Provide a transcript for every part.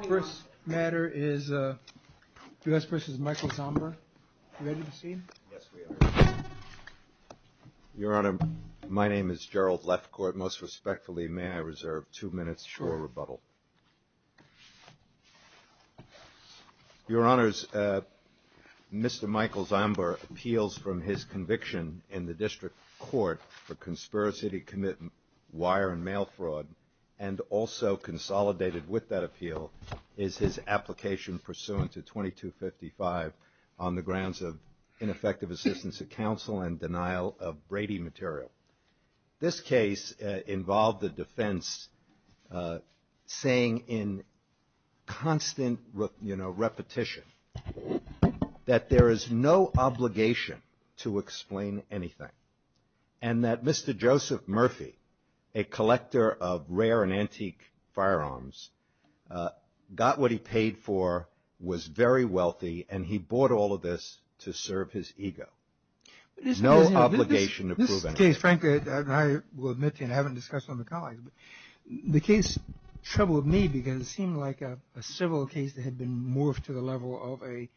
The first matter is U.S. v. Michael Zomber. Are you ready to proceed? Your Honor, my name is Gerald Lefcourt. Most respectfully, may I reserve two minutes for a rebuttal? Your Honors, Mr. Michael Zomber appeals from his conviction in the District Court for conspiracy to commit wire and mail fraud and also consolidated with that appeal is his application pursuant to 2255 on the grounds of ineffective assistance of counsel and denial of Brady material. This case involved the defense saying in constant repetition that there is no obligation to explain anything and that Mr. Joseph Murphy, a collector of rare and antique firearms, got what he paid for, was very wealthy, and he bought all of this to serve his ego. No obligation to prove anything. This case, frankly, I will admit to you, and I haven't discussed it with my colleagues, but the case troubled me because it seemed like a civil case that had been morphed to the level of a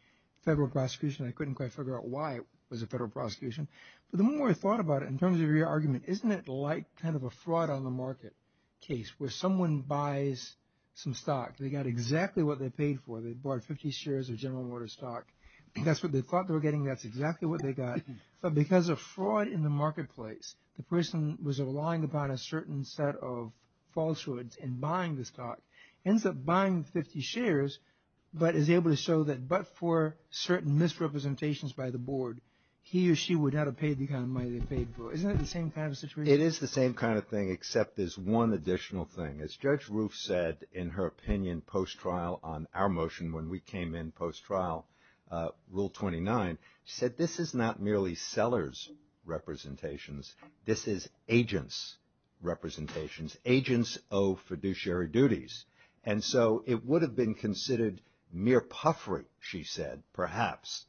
federal prosecution. I couldn't quite figure out why it was a federal prosecution. But the more I thought about it, in terms of your argument, isn't it like kind of a fraud on the market case where someone buys some stock. They got exactly what they paid for. They bought 50 shares of General Motors stock. That's what they thought they were getting. That's exactly what they got. But because of fraud in the marketplace, the person was relying upon a certain set of falsehoods in buying the stock, ends up buying 50 shares, but is able to show that but for certain misrepresentations by the board, he or she would have to pay the kind of money they paid for. Isn't it the same kind of situation? It is the same kind of thing, except there's one additional thing. As Judge Roof said in her opinion post-trial on our motion when we came in post-trial, Rule 29, this is agents' representations. Agents owe fiduciary duties. And so it would have been considered mere puffery, she said, perhaps,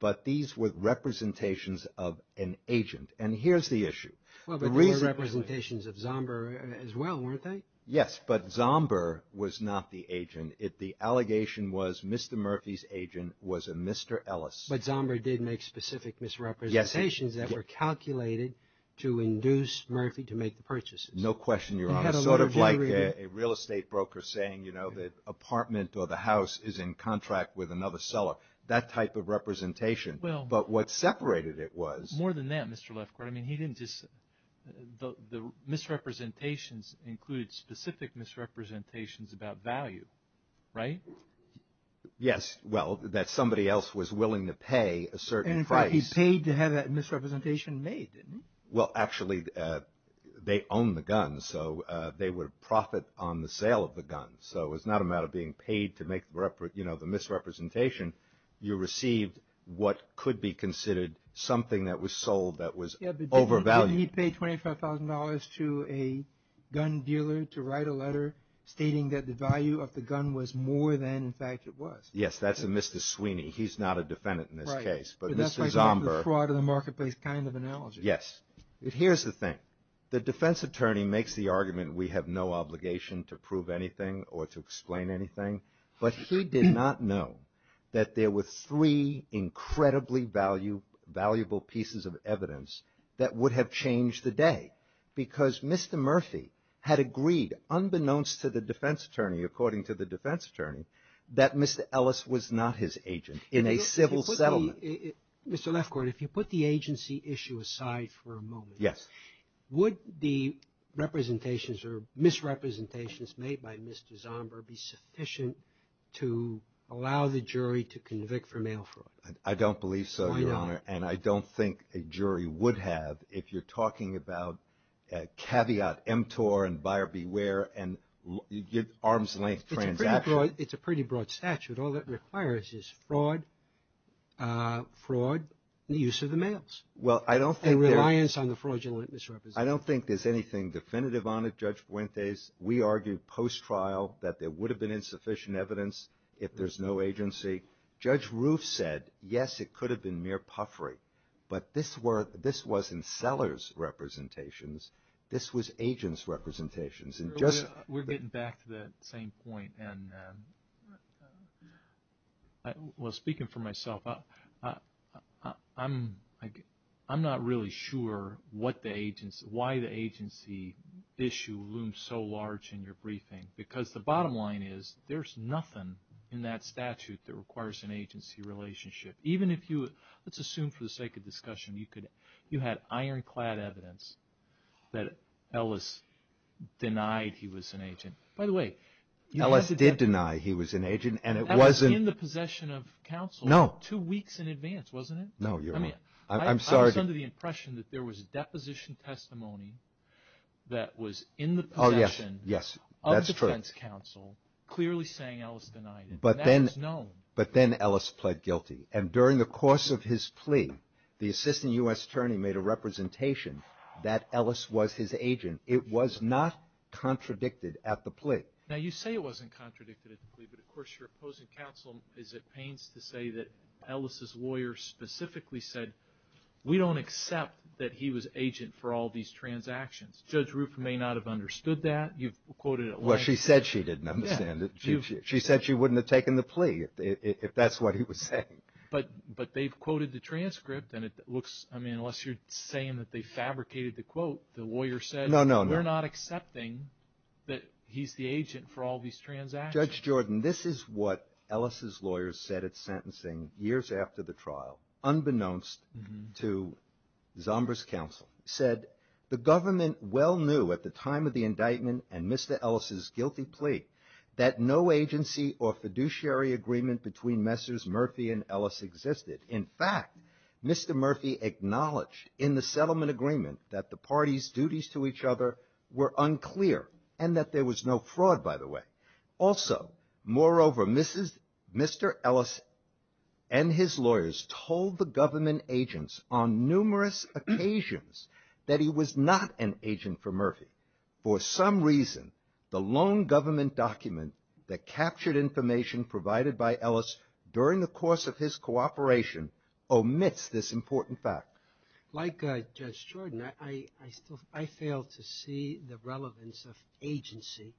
but these were representations of an agent. And here's the issue. There were representations of Zomber as well, weren't they? Yes, but Zomber was not the agent. The allegation was Mr. Murphy's agent was a Mr. Ellis. But Zomber did make specific misrepresentations that were calculated to induce Murphy to make the purchases. No question, Your Honor. Sort of like a real estate broker saying, you know, the apartment or the house is in contract with another seller, that type of representation. But what separated it was… More than that, Mr. Lefkowitz. I mean, he didn't just – the misrepresentations included specific misrepresentations about value, right? Yes, well, that somebody else was willing to pay a certain price. And in fact, he paid to have that misrepresentation made, didn't he? Well, actually, they owned the guns, so they would profit on the sale of the guns. So it was not a matter of being paid to make, you know, the misrepresentation. You received what could be considered something that was sold that was overvalued. Didn't he pay $25,000 to a gun dealer to write a letter stating that the value of the gun was more than, in fact, it was? Yes, that's a Mr. Sweeney. He's not a defendant in this case. But Mr. Zomber… That's like the fraud in the marketplace kind of analogy. Yes. Here's the thing. The defense attorney makes the argument we have no obligation to prove anything or to explain anything. But he did not know that there were three incredibly valuable pieces of evidence that would have changed the day. Because Mr. Murphy had agreed, unbeknownst to the defense attorney, according to the defense attorney, that Mr. Ellis was not his agent in a civil settlement. Mr. Lefkowitz, if you put the agency issue aside for a moment. Yes. Would the representations or misrepresentations made by Mr. Zomber be sufficient to allow the jury to convict for mail fraud? I don't believe so, Your Honor. Why not? And I don't think a jury would have if you're talking about caveat emptor and buyer beware and arms-length transactions. It's a pretty broad statute. All that requires is fraud, the use of the mails. Well, I don't think… And reliance on the fraudulent misrepresentations. I don't think there's anything definitive on it, Judge Fuentes. We argued post-trial that there would have been insufficient evidence if there's no agency. Judge Roof said, yes, it could have been mere puffery. But this wasn't seller's representations. This was agent's representations. We're getting back to that same point. Speaking for myself, I'm not really sure why the agency issue looms so large in your briefing. Because the bottom line is there's nothing in that statute that requires an agency relationship. Even if you, let's assume for the sake of discussion, you had ironclad evidence that Ellis denied he was an agent. By the way… Ellis did deny he was an agent and it wasn't… Ellis was in the possession of counsel. No. Two weeks in advance, wasn't it? No, Your Honor. I mean, I was under the impression that there was a deposition testimony that was in the possession… Oh, yes, yes, that's true. …of defense counsel clearly saying Ellis denied it. But then… And that was known. But then Ellis pled guilty. And during the course of his plea, the assistant U.S. attorney made a representation that Ellis was his agent. It was not contradicted at the plea. Now, you say it wasn't contradicted at the plea. But, of course, your opposing counsel is at pains to say that Ellis' lawyer specifically said, we don't accept that he was agent for all these transactions. Judge Rufin may not have understood that. You've quoted it… Well, she said she didn't understand it. Yeah. She didn't understand the plea, if that's what he was saying. But they've quoted the transcript, and it looks… I mean, unless you're saying that they fabricated the quote, the lawyer said… No, no, no. …we're not accepting that he's the agent for all these transactions. Judge Jordan, this is what Ellis' lawyer said at sentencing years after the trial, unbeknownst to Zomber's counsel. He said, the government well knew at the time of the indictment and Mr. Ellis' guilty plea that no agency or fiduciary agreement between Messrs. Murphy and Ellis existed. In fact, Mr. Murphy acknowledged in the settlement agreement that the parties' duties to each other were unclear and that there was no fraud, by the way. Also, moreover, Mr. Ellis and his lawyers told the government agents on numerous occasions that he was not an agent for Murphy. For some reason, the lone government document that captured information provided by Ellis during the course of his cooperation omits this important fact. Like Judge Jordan, I fail to see the relevance of agency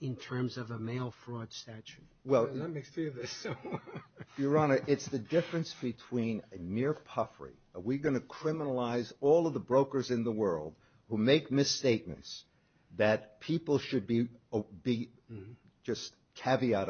in terms of a mail fraud statute. Well… Let me say this. Your Honor, it's the difference between a mere puffery. Are we going to criminalize all of the brokers in the world who make misstatements that people should be, just caveat,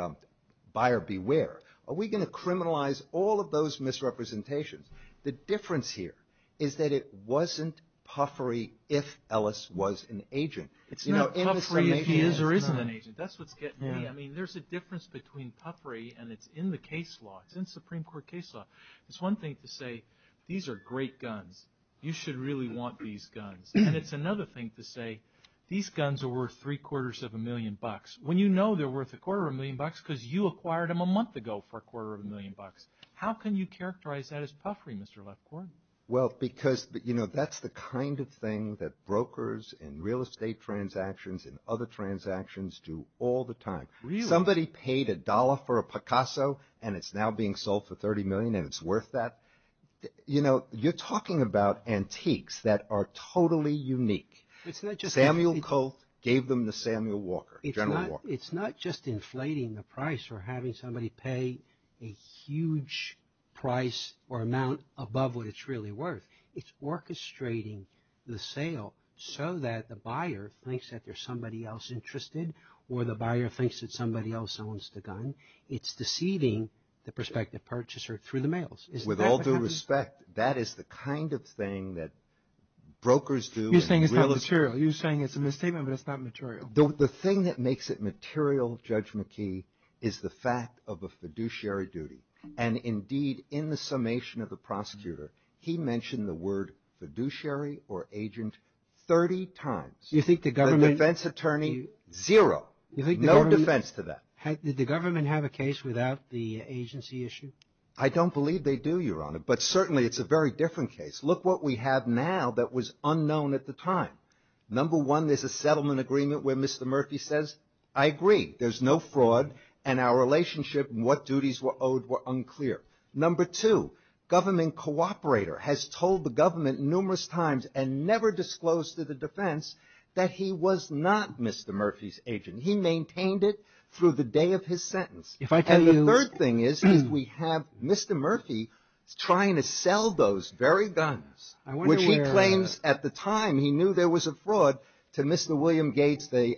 buyer beware? Are we going to criminalize all of those misrepresentations? The difference here is that it wasn't puffery if Ellis was an agent. It's not puffery if he is or isn't an agent. That's what's getting me. I mean, there's a difference between puffery and it's in the case law. It's in Supreme Court case law. It's one thing to say these are great guns. You should really want these guns. And it's another thing to say these guns are worth three quarters of a million bucks when you know they're worth a quarter of a million bucks because you acquired them a month ago for a quarter of a million bucks. How can you characterize that as puffery, Mr. Lefkowitz? Well, because that's the kind of thing that brokers and real estate transactions and other transactions do all the time. Somebody paid a dollar for a Picasso and it's now being sold for 30 million and it's worth that. You know, you're talking about antiques that are totally unique. Samuel Colt gave them to Samuel Walker, General Walker. It's not just inflating the price or having somebody pay a huge price or amount above what it's really worth. It's orchestrating the sale so that the buyer thinks that there's somebody else interested or the buyer thinks that somebody else owns the gun. It's deceiving the prospective purchaser through the mails. Is that what happens? With all due respect, that is the kind of thing that brokers do. You're saying it's not material. You're saying it's a misstatement, but it's not material. The thing that makes it material, Judge McKee, is the fact of a fiduciary duty. And indeed, in the summation of the prosecutor, he mentioned the word fiduciary or agent 30 times. The defense attorney, zero. No defense to that. Did the government have a case without the agency issue? I don't believe they do, Your Honor, but certainly it's a very different case. Look what we have now that was unknown at the time. Number one, there's a settlement agreement where Mr. Murphy says, I agree, there's no fraud, and our relationship and what duties were owed were unclear. Number two, government cooperator has told the government numerous times and never disclosed to the defense that he was not Mr. Murphy's agent. He maintained it through the day of his sentence. And the third thing is we have Mr. Murphy trying to sell those very guns, which he claims at the time he knew there was a fraud to Mr. William Gates, the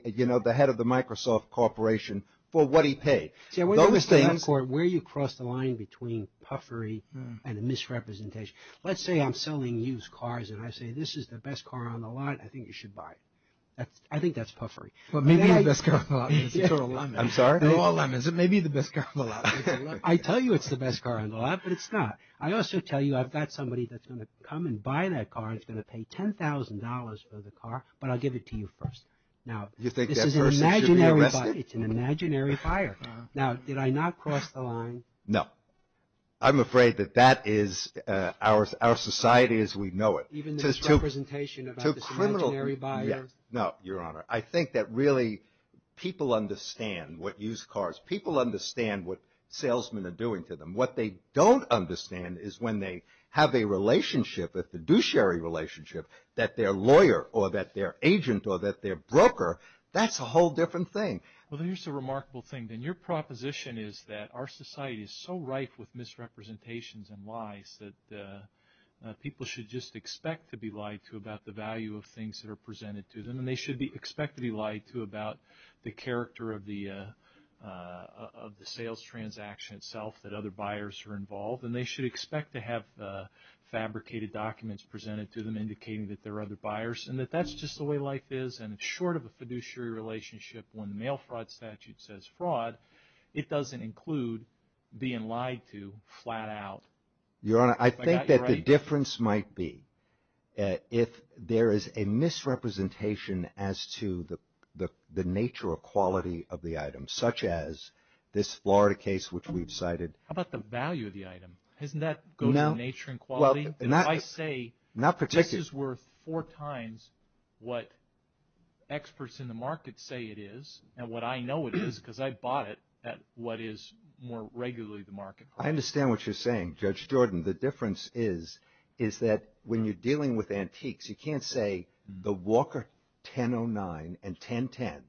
head of the Microsoft Corporation, for what he paid. Where you cross the line between puffery and a misrepresentation. Let's say I'm selling used cars and I say this is the best car on the lot. I think you should buy it. I think that's puffery. Well, maybe the best car on the lot is a total lemon. I'm sorry? They're all lemons. Maybe the best car on the lot is a lemon. I tell you it's the best car on the lot, but it's not. I also tell you I've got somebody that's going to come and buy that car and is going to pay $10,000 for the car, but I'll give it to you first. Now, this is an imaginary buyer. You think that person should be arrested? It's an imaginary buyer. Now, did I not cross the line? No. I'm afraid that that is our society as we know it. Even this misrepresentation about this imaginary buyer? No, Your Honor. I think that really people understand what used cars, people understand what salesmen are doing to them. What they don't understand is when they have a relationship, a fiduciary relationship, that they're a lawyer or that they're an agent or that they're a broker. That's a whole different thing. Well, here's the remarkable thing. Your proposition is that our society is so rife with misrepresentations and lies that people should just expect to be lied to about the value of things that are presented to them, and they should expect to be lied to about the character of the sales transaction itself that other buyers are involved, and they should expect to have fabricated documents presented to them indicating that there are other buyers and that that's just the way life is and it's short of a fiduciary relationship. When the mail fraud statute says fraud, it doesn't include being lied to flat out. Your Honor, I think that the difference might be if there is a misrepresentation as to the nature or quality of the item, such as this Florida case which we've cited. How about the value of the item? Doesn't that go to the nature and quality? If I say this is worth four times what experts in the market say it is and what I know it is because I bought it at what is more regularly the market price. I understand what you're saying, Judge Jordan. The difference is that when you're dealing with antiques, you can't say the Walker 1009 and 1010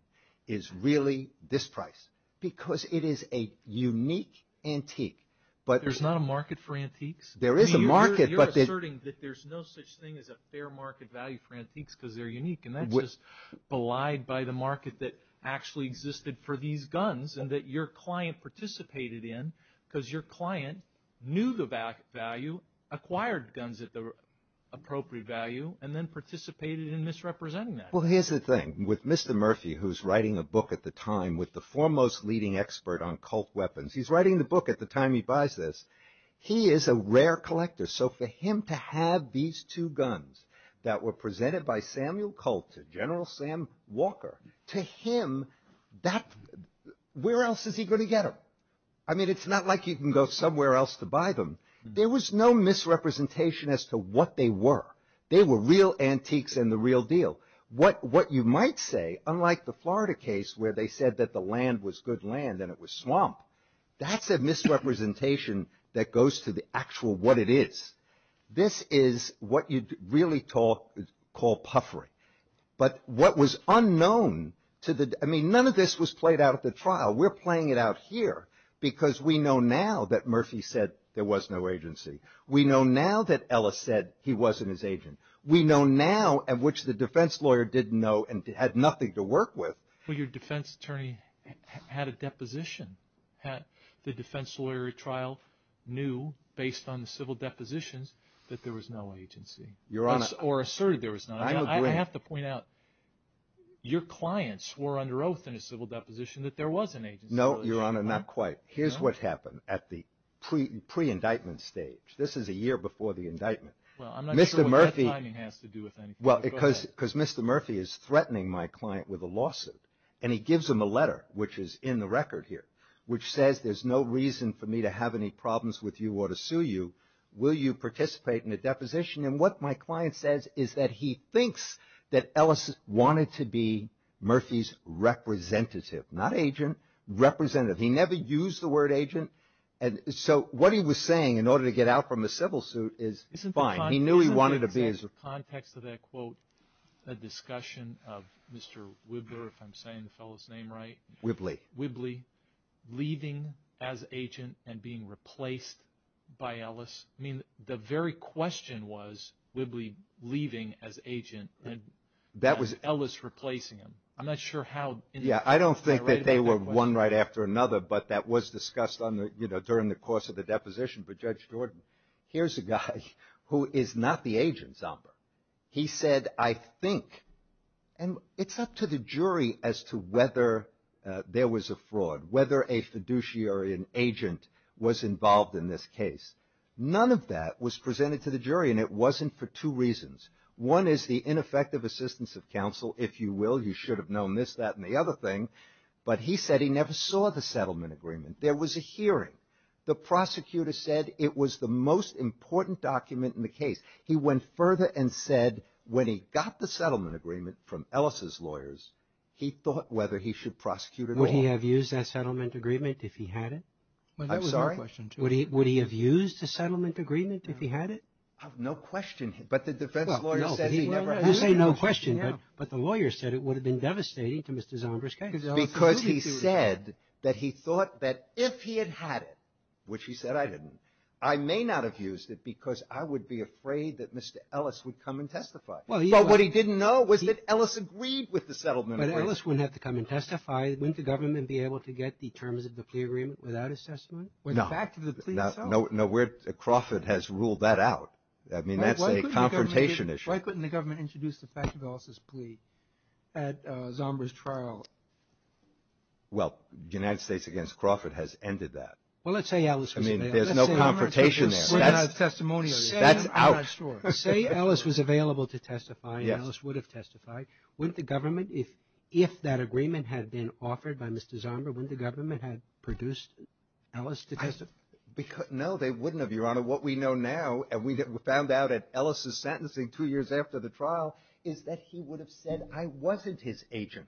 is really this price because it is a unique antique. There's not a market for antiques? There is a market. You're asserting that there's no such thing as a fair market value for antiques because they're unique, and that's just belied by the market that actually existed for these guns and that your client participated in because your client knew the value, acquired guns at the appropriate value, and then participated in misrepresenting that. Well, here's the thing. With Mr. Murphy, who's writing a book at the time with the foremost leading expert on Colt weapons, he's writing the book at the time he buys this. He is a rare collector, so for him to have these two guns that were presented by Samuel Colt to General Sam Walker, to him, where else is he going to get them? I mean, it's not like you can go somewhere else to buy them. There was no misrepresentation as to what they were. They were real antiques and the real deal. What you might say, unlike the Florida case where they said that the land was good land and it was swamp, that's a misrepresentation that goes to the actual what it is. This is what you'd really call puffery. But what was unknown to the – I mean, none of this was played out at the trial. We're playing it out here because we know now that Murphy said there was no agency. We know now that Ellis said he wasn't his agent. We know now, which the defense lawyer didn't know and had nothing to work with. Well, your defense attorney had a deposition. The defense lawyer at trial knew, based on the civil depositions, that there was no agency. Your Honor. Or asserted there was none. I have to point out, your clients were under oath in a civil deposition that there was an agency. No, Your Honor, not quite. Here's what happened at the pre-indictment stage. This is a year before the indictment. Well, I'm not sure what that timing has to do with anything. Well, because Mr. Murphy is threatening my client with a lawsuit, and he gives him a letter, which is in the record here, which says there's no reason for me to have any problems with you or to sue you. Will you participate in the deposition? And what my client says is that he thinks that Ellis wanted to be Murphy's representative. Not agent. Representative. He never used the word agent. So what he was saying, in order to get out from the civil suit, is fine. He knew he wanted to be his. Isn't the context of that quote a discussion of Mr. Wibler, if I'm saying the fellow's name right? Wibley. Leaving as agent and being replaced by Ellis. I mean, the very question was Wibley leaving as agent and Ellis replacing him. I'm not sure how. Yeah, I don't think that they were one right after another, but that was discussed during the course of the deposition. But Judge Jordan, here's a guy who is not the agent's number. He said, I think, and it's up to the jury as to whether there was a fraud, whether a fiduciary agent was involved in this case. None of that was presented to the jury, and it wasn't for two reasons. One is the ineffective assistance of counsel, if you will. You should have known this, that, and the other thing. But he said he never saw the settlement agreement. There was a hearing. The prosecutor said it was the most important document in the case. He went further and said when he got the settlement agreement from Ellis' lawyers, he thought whether he should prosecute at all. Would he have used that settlement agreement if he had it? I'm sorry? Would he have used the settlement agreement if he had it? No question. But the defense lawyer said he never had it. You say no question, but the lawyer said it would have been devastating to Mr. Zombers' case. Because he said that he thought that if he had had it, which he said I didn't, I may not have used it because I would be afraid that Mr. Ellis would come and testify. But what he didn't know was that Ellis agreed with the settlement agreement. But Ellis wouldn't have to come and testify. Wouldn't the government be able to get the terms of the plea agreement without his testimony? No. With the fact of the plea itself? No. Crawford has ruled that out. I mean, that's a confrontation issue. Why couldn't the government introduce the fact of Ellis' plea at Zombers' trial? Well, the United States against Crawford has ended that. Well, let's say Ellis was failed. There's no confrontation there. That's out. Say Ellis was available to testify and Ellis would have testified. Wouldn't the government, if that agreement had been offered by Mr. Zombers, wouldn't the government have produced Ellis to testify? No, they wouldn't have, Your Honor. What we know now, and we found out at Ellis' sentencing two years after the trial, is that he would have said I wasn't his agent.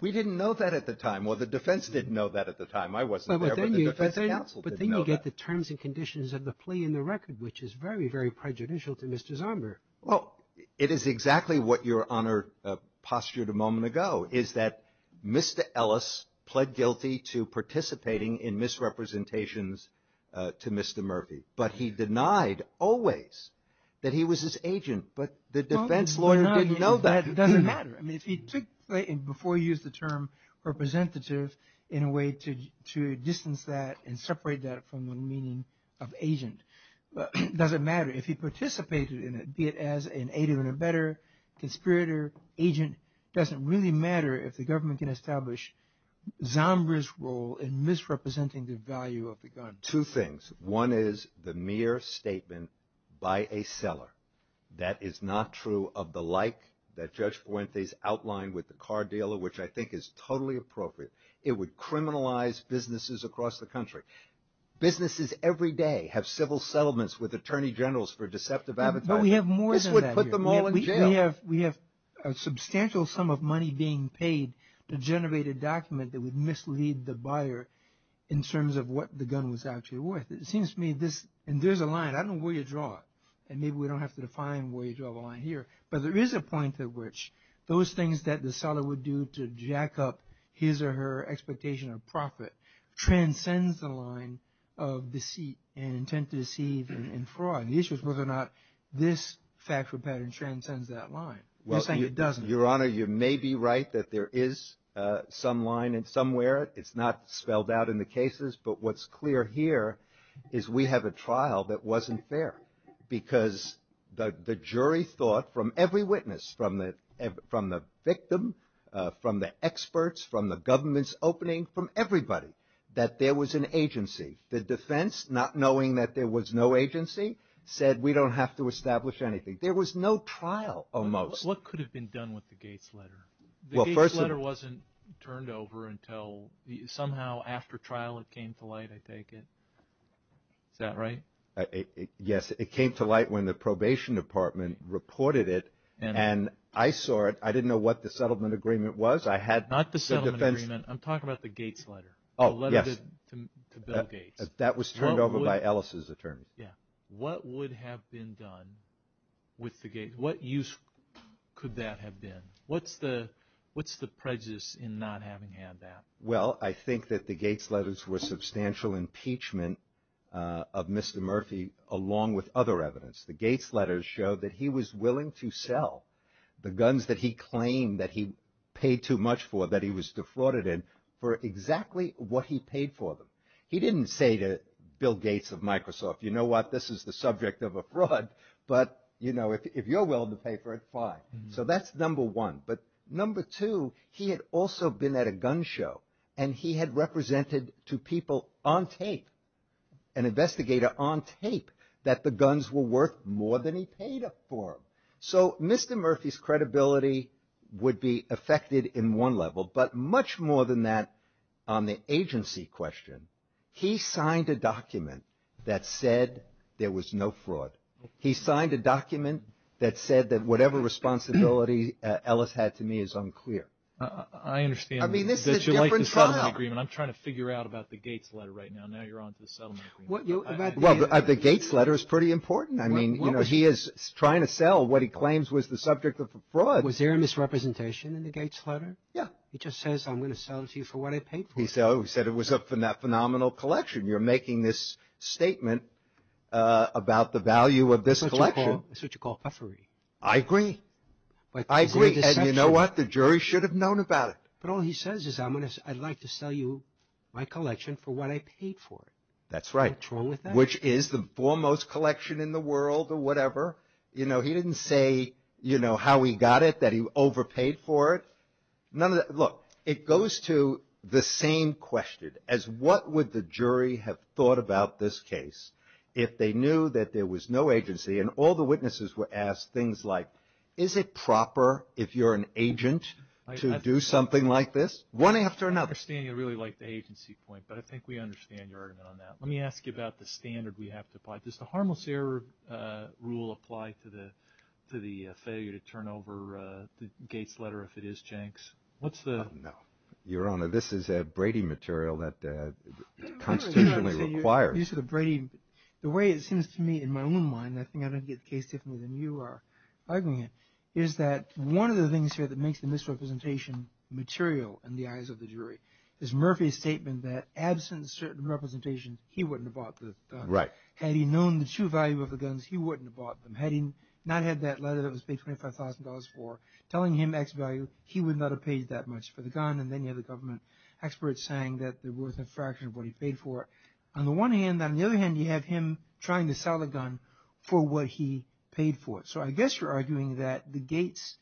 We didn't know that at the time. Well, the defense didn't know that at the time. I wasn't there, but the defense counsel didn't know that. But then you get the terms and conditions of the plea in the record, which is very, very prejudicial to Mr. Zombers. Well, it is exactly what Your Honor postured a moment ago, is that Mr. Ellis pled guilty to participating in misrepresentations to Mr. Murphy, but he denied always that he was his agent, but the defense lawyer didn't know that. It doesn't matter. I mean, if he took, before he used the term representative in a way to distance that and separate that from the meaning of agent, it doesn't matter. If he participated in it, be it as an agent or a better conspirator, agent, it doesn't really matter if the government can establish Zombers' role in misrepresenting the value of the gun. Two things. One is the mere statement by a seller that is not true of the like that Judge Fuentes outlined with the car dealer, which I think is totally appropriate. It would criminalize businesses across the country. Businesses every day have civil settlements with attorney generals for deceptive advertising. But we have more than that here. This would put them all in jail. We have a substantial sum of money being paid to generate a document that would mislead the buyer in terms of what the gun was actually worth. It seems to me this, and there's a line. I don't know where you draw it, and maybe we don't have to define where you draw the line here, but there is a point at which those things that the seller would do to jack up his or her expectation of profit transcends the line of deceit and intent to deceive and fraud. The issue is whether or not this factual pattern transcends that line. You're saying it doesn't. Your Honor, you may be right that there is some line somewhere. It's not spelled out in the cases, but what's clear here is we have a trial that wasn't fair because the jury thought from every witness, from the victim, from the experts, from the government's opening, from everybody, that there was an agency. The defense, not knowing that there was no agency, said we don't have to establish anything. There was no trial almost. What could have been done with the Gates letter? The Gates letter wasn't turned over until somehow after trial it came to light, I take it. Is that right? Yes. It came to light when the probation department reported it, and I saw it. I didn't know what the settlement agreement was. I had the defense. Not the settlement agreement. I'm talking about the Gates letter. Oh, yes. The letter to Bill Gates. That was turned over by Ellis's attorney. Yeah. What would have been done with the Gates? What use could that have been? What's the prejudice in not having had that? Well, I think that the Gates letters were substantial impeachment of Mr. Murphy along with other evidence. The Gates letters showed that he was willing to sell the guns that he claimed that he paid too much for, that he was defrauded in, for exactly what he paid for them. He didn't say to Bill Gates of Microsoft, you know what, this is the subject of a fraud, but, you know, if you're willing to pay for it, fine. So that's number one. But number two, he had also been at a gun show, and he had represented to people on tape, an investigator on tape, that the guns were worth more than he paid for them. So Mr. Murphy's credibility would be affected in one level, but much more than that on the agency question. He signed a document that said there was no fraud. He signed a document that said that whatever responsibility Ellis had to me is unclear. I understand that you like the settlement agreement. I'm trying to figure out about the Gates letter right now. Now you're on to the settlement agreement. Well, the Gates letter is pretty important. I mean, you know, he is trying to sell what he claims was the subject of a fraud. Was there a misrepresentation in the Gates letter? Yeah. He just says I'm going to sell it to you for what I paid for it. He said it was a phenomenal collection. You're making this statement about the value of this collection. That's what you call puffery. I agree. I agree. And you know what? The jury should have known about it. But all he says is I'd like to sell you my collection for what I paid for it. That's right. What's wrong with that? Which is the foremost collection in the world or whatever. You know, he didn't say, you know, how he got it, that he overpaid for it. Look, it goes to the same question as what would the jury have thought about this case if they knew that there was no agency and all the witnesses were asked things like, is it proper if you're an agent to do something like this? One after another. I understand you really like the agency point, but I think we understand your argument on that. Let me ask you about the standard we have to apply. Does the harmless error rule apply to the failure to turn over the Gates letter if it is Jenks? No. Your Honor, this is Brady material that constitutionally requires. You said Brady. The way it seems to me in my own mind, I think I don't get the case differently than you are arguing it, is that one of the things here that makes the misrepresentation material in the eyes of the jury is Murphy's statement that absent certain representation, he wouldn't have bought the document. Right. Had he known the true value of the guns, he wouldn't have bought them. Had he not had that letter that was paid $25,000 for telling him X value, he would not have paid that much for the gun. And then you have the government experts saying that there was a fraction of what he paid for. On the one hand, on the other hand, you have him trying to sell the gun for what he paid for it. So I guess you're arguing that the Gates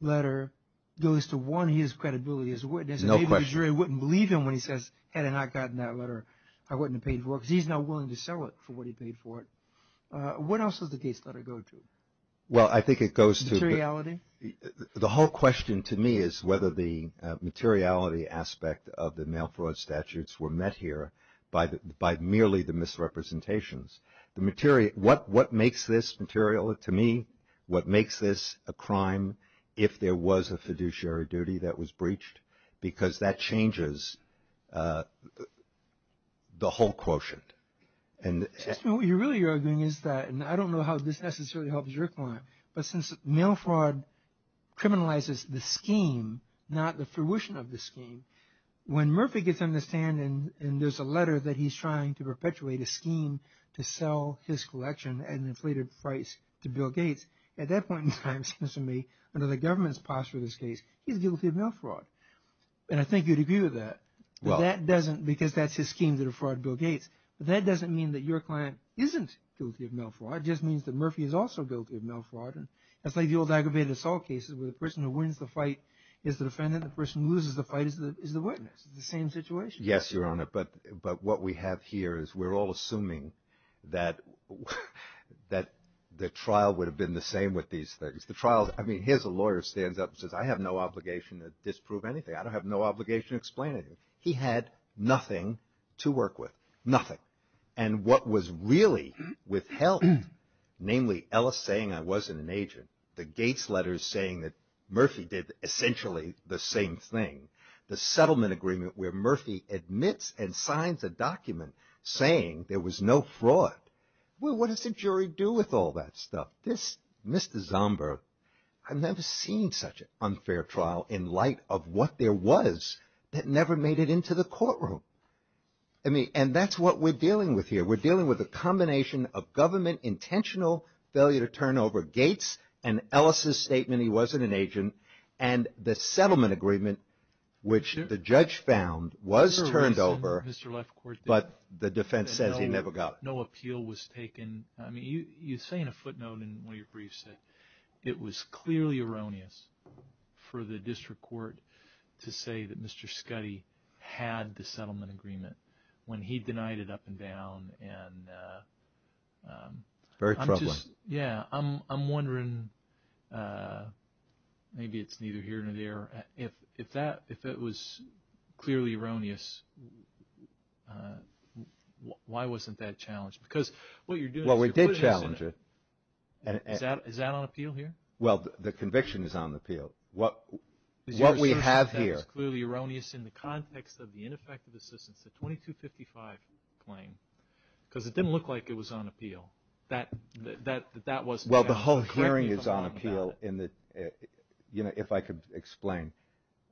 letter goes to one, his credibility as a witness. No question. And the jury wouldn't believe him when he says, had I not gotten that letter, I wouldn't have paid for it because he's not willing to sell it for what he paid for it. What else does the Gates letter go to? Well, I think it goes to the whole question to me is whether the materiality aspect of the mail fraud statutes were met here by merely the misrepresentations. What makes this material to me, what makes this a crime if there was a fiduciary duty that was breached? Because that changes the whole quotient. What you're really arguing is that, and I don't know how this necessarily helps your point, but since mail fraud criminalizes the scheme, not the fruition of the scheme, when Murphy gets on the stand and there's a letter that he's trying to perpetuate a scheme to sell his collection at an inflated price to Bill Gates, at that point in time, it seems to me, under the government's posture in this case, he's guilty of mail fraud. And I think you'd agree with that. But that doesn't, because that's his scheme to defraud Bill Gates, but that doesn't mean that your client isn't guilty of mail fraud. It just means that Murphy is also guilty of mail fraud. And that's like the old aggravated assault cases where the person who wins the fight is the defendant. The person who loses the fight is the witness. It's the same situation. Yes, Your Honor. But what we have here is we're all assuming that the trial would have been the same with these things. I mean, here's a lawyer who stands up and says, I have no obligation to disprove anything. I don't have no obligation to explain anything. He had nothing to work with, nothing. And what was really withheld, namely Ellis saying I wasn't an agent, the Gates letters saying that Murphy did essentially the same thing, the settlement agreement where Murphy admits and signs a document saying there was no fraud. Well, what does the jury do with all that stuff? This Mr. Zomber, I've never seen such an unfair trial in light of what there was that never made it into the courtroom. I mean, and that's what we're dealing with here. We're dealing with a combination of government intentional failure to turn over Gates and Ellis's statement he wasn't an agent and the settlement agreement which the judge found was turned over. But the defense says he never got it. No appeal was taken. I mean, you say in a footnote in one of your briefs that it was clearly erroneous for the district court to say that Mr. Scuddy had the settlement agreement when he denied it up and down. Very troubling. Yeah, I'm wondering, maybe it's neither here nor there. If it was clearly erroneous, why wasn't that challenged? Well, we did challenge it. Is that on appeal here? Well, the conviction is on appeal. What we have here. It was clearly erroneous in the context of the ineffective assistance, the 2255 claim, because it didn't look like it was on appeal. Well, the whole hearing is on appeal. You know, if I could explain.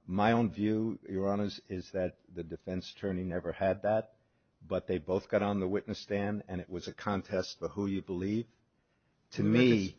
My own view, Your Honors, is that the defense attorney never had that, but they both got on the witness stand, and it was a contest for who you believe. To me,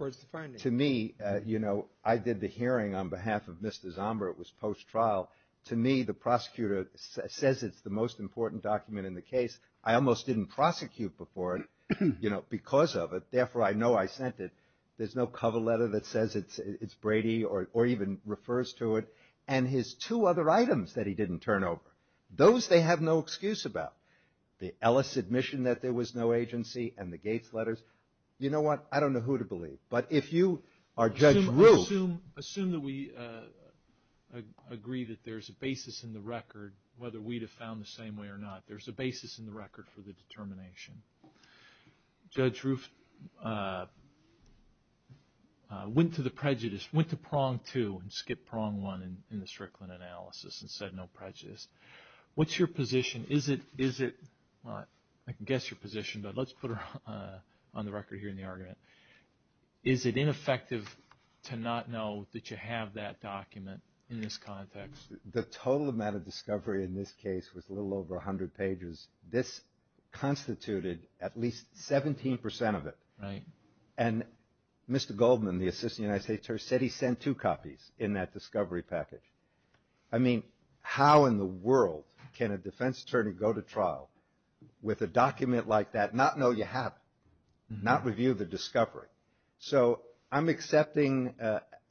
you know, I did the hearing on behalf of Mr. Zomber. It was post-trial. To me, the prosecutor says it's the most important document in the case. I almost didn't prosecute before it, you know, because of it. Therefore, I know I sent it. There's no cover letter that says it's Brady or even refers to it. And his two other items that he didn't turn over, those they have no excuse about. The Ellis admission that there was no agency and the Gates letters. You know what? I don't know who to believe. But if you are Judge Roof. Assume that we agree that there's a basis in the record, whether we'd have found the same way or not. There's a basis in the record for the determination. Judge Roof went to the prejudice, went to prong two and skipped prong one in the Strickland analysis and said no prejudice. What's your position? Is it – I can guess your position, but let's put it on the record here in the argument. Is it ineffective to not know that you have that document in this context? The total amount of discovery in this case was a little over 100 pages. This constituted at least 17% of it. Right. And Mr. Goldman, the Assistant United States Attorney, said he sent two copies in that discovery package. I mean, how in the world can a defense attorney go to trial with a document like that, not know you have it, not review the discovery? So I'm accepting,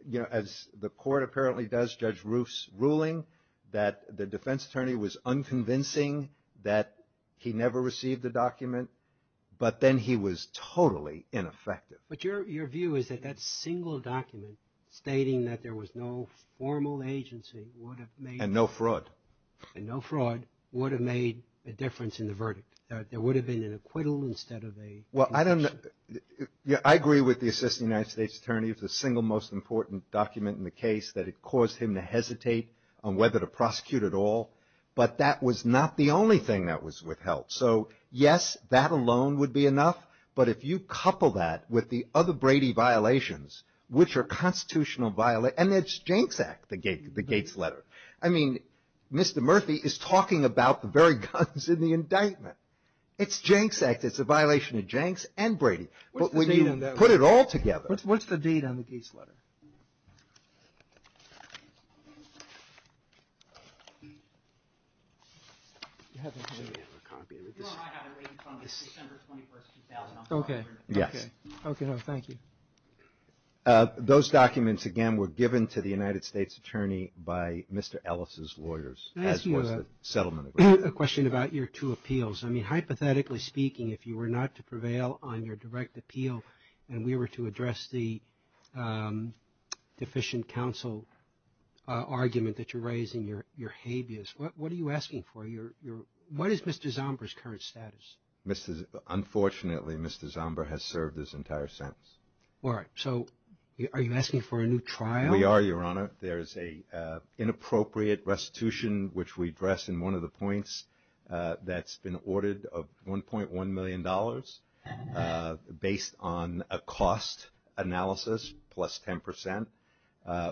you know, as the court apparently does, Judge Roof's ruling, that the defense attorney was unconvincing that he never received the document, but then he was totally ineffective. But your view is that that single document stating that there was no formal agency would have made – And no fraud. And no fraud would have made a difference in the verdict, that there would have been an acquittal instead of a – Well, I don't – I agree with the Assistant United States Attorney. It's the single most important document in the case that it caused him to hesitate on whether to prosecute at all, but that was not the only thing that was withheld. So yes, that alone would be enough, but if you couple that with the other Brady violations, which are constitutional – and it's Janks Act, the Gates letter. I mean, Mr. Murphy is talking about the very guns in the indictment. It's Janks Act. It's a violation of Janks and Brady. But when you put it all together – What's the date on the Gates letter? You have a copy of it? No, I have it right in front of me. December 21, 2000. Okay. Yes. Okay. Thank you. Those documents, again, were given to the United States Attorney by Mr. Ellis' lawyers, as was the settlement agreement. Can I ask you a question about your two appeals? I mean, hypothetically speaking, if you were not to prevail on your direct appeal and we were to address the deficient counsel argument that you raised in your habeas, what are you asking for? What is Mr. Zomber's current status? Unfortunately, Mr. Zomber has served his entire sentence. All right. So are you asking for a new trial? We are, Your Honor. There is an inappropriate restitution, which we address in one of the points, that's been ordered of $1.1 million based on a cost analysis plus 10 percent,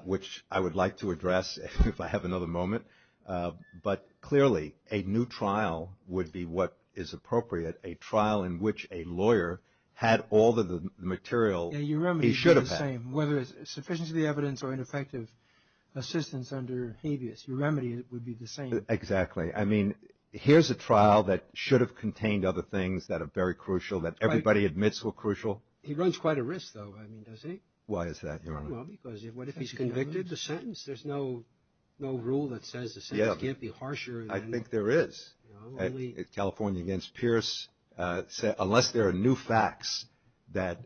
which I would like to address if I have another moment. But clearly, a new trial would be what is appropriate, a trial in which a lawyer had all the material he should have had. Whether it's sufficient to the evidence or ineffective assistance under habeas, your remedy would be the same. Exactly. I mean, here's a trial that should have contained other things that are very crucial, that everybody admits were crucial. He runs quite a risk, though, doesn't he? Why is that, Your Honor? Well, because what if he's convicted? The sentence, there's no rule that says the sentence can't be harsher. I think there is. California against Pierce, unless there are new facts that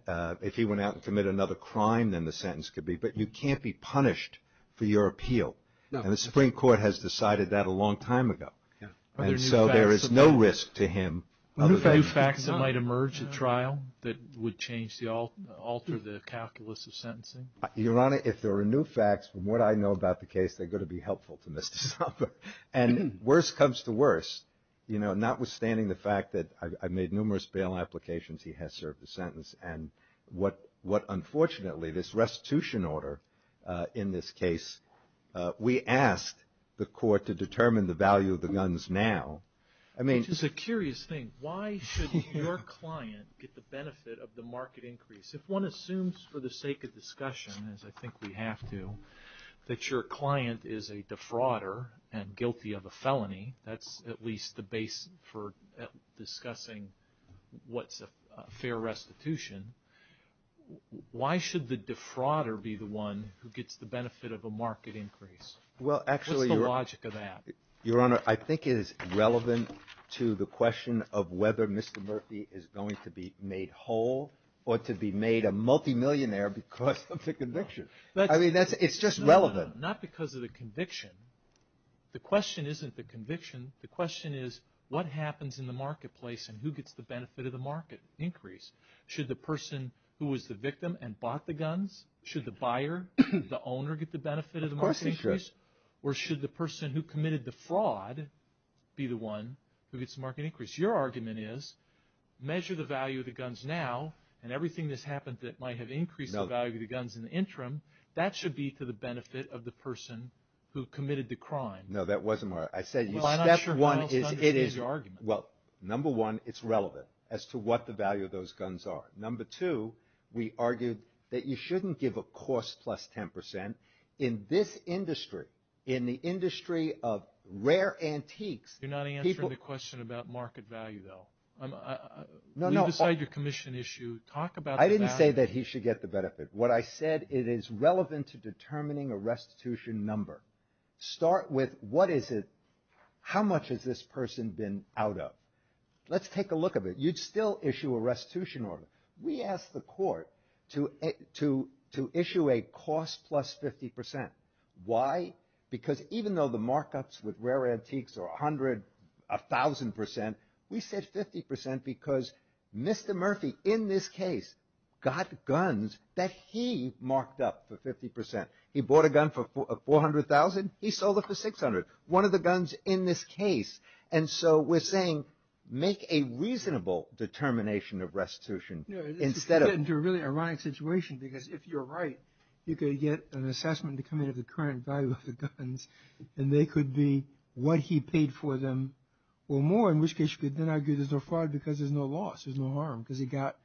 if he went out and committed another crime, then the sentence could be, but you can't be punished for your appeal. And the Supreme Court has decided that a long time ago. And so there is no risk to him. Are there new facts that might emerge at trial that would alter the calculus of sentencing? Your Honor, if there are new facts from what I know about the case, they're going to be helpful to Mr. Sopper. And worse comes to worse, you know, notwithstanding the fact that I've made numerous bail applications, he has served a sentence. And what unfortunately, this restitution order in this case, we asked the court to determine the value of the guns now. Which is a curious thing. Why should your client get the benefit of the market increase? If one assumes for the sake of discussion, as I think we have to, that your client is a defrauder and guilty of a felony, that's at least the base for discussing what's a fair restitution. Why should the defrauder be the one who gets the benefit of a market increase? What's the logic of that? Your Honor, I think it is relevant to the question of whether Mr. Murphy is going to be made whole or to be made a multimillionaire because of the conviction. I mean, it's just relevant. Not because of the conviction. The question isn't the conviction. The question is, what happens in the marketplace and who gets the benefit of the market increase? Should the person who was the victim and bought the guns, should the buyer, the owner, get the benefit of the market increase? Of course they should. Or should the person who committed the fraud be the one who gets the market increase? Your argument is, measure the value of the guns now, and everything that's happened that might have increased the value of the guns in the interim, that should be to the benefit of the person who committed the crime. No, that wasn't what I said. Well, I'm not sure who else understands your argument. Well, number one, it's relevant as to what the value of those guns are. Number two, we argued that you shouldn't give a cost plus 10%. In this industry, in the industry of rare antiques, people— You're not answering the question about market value, though. No, no. When you decide your commission issue, talk about the value. I didn't say that he should get the benefit. What I said, it is relevant to determining a restitution number. Start with what is it—how much has this person been out of? Let's take a look at it. You'd still issue a restitution order. We asked the court to issue a cost plus 50%. Why? Because even though the markups with rare antiques are 100, 1,000%, we said 50% because Mr. Murphy, in this case, got guns that he marked up for 50%. He bought a gun for 400,000. He sold it for 600. One of the guns in this case. And so we're saying make a reasonable determination of restitution instead of— No, this could get into a really ironic situation because if you're right, you could get an assessment to come in of the current value of the guns, and they could be what he paid for them or more, in which case you could then argue there's no fraud because there's no loss. There's no harm because he got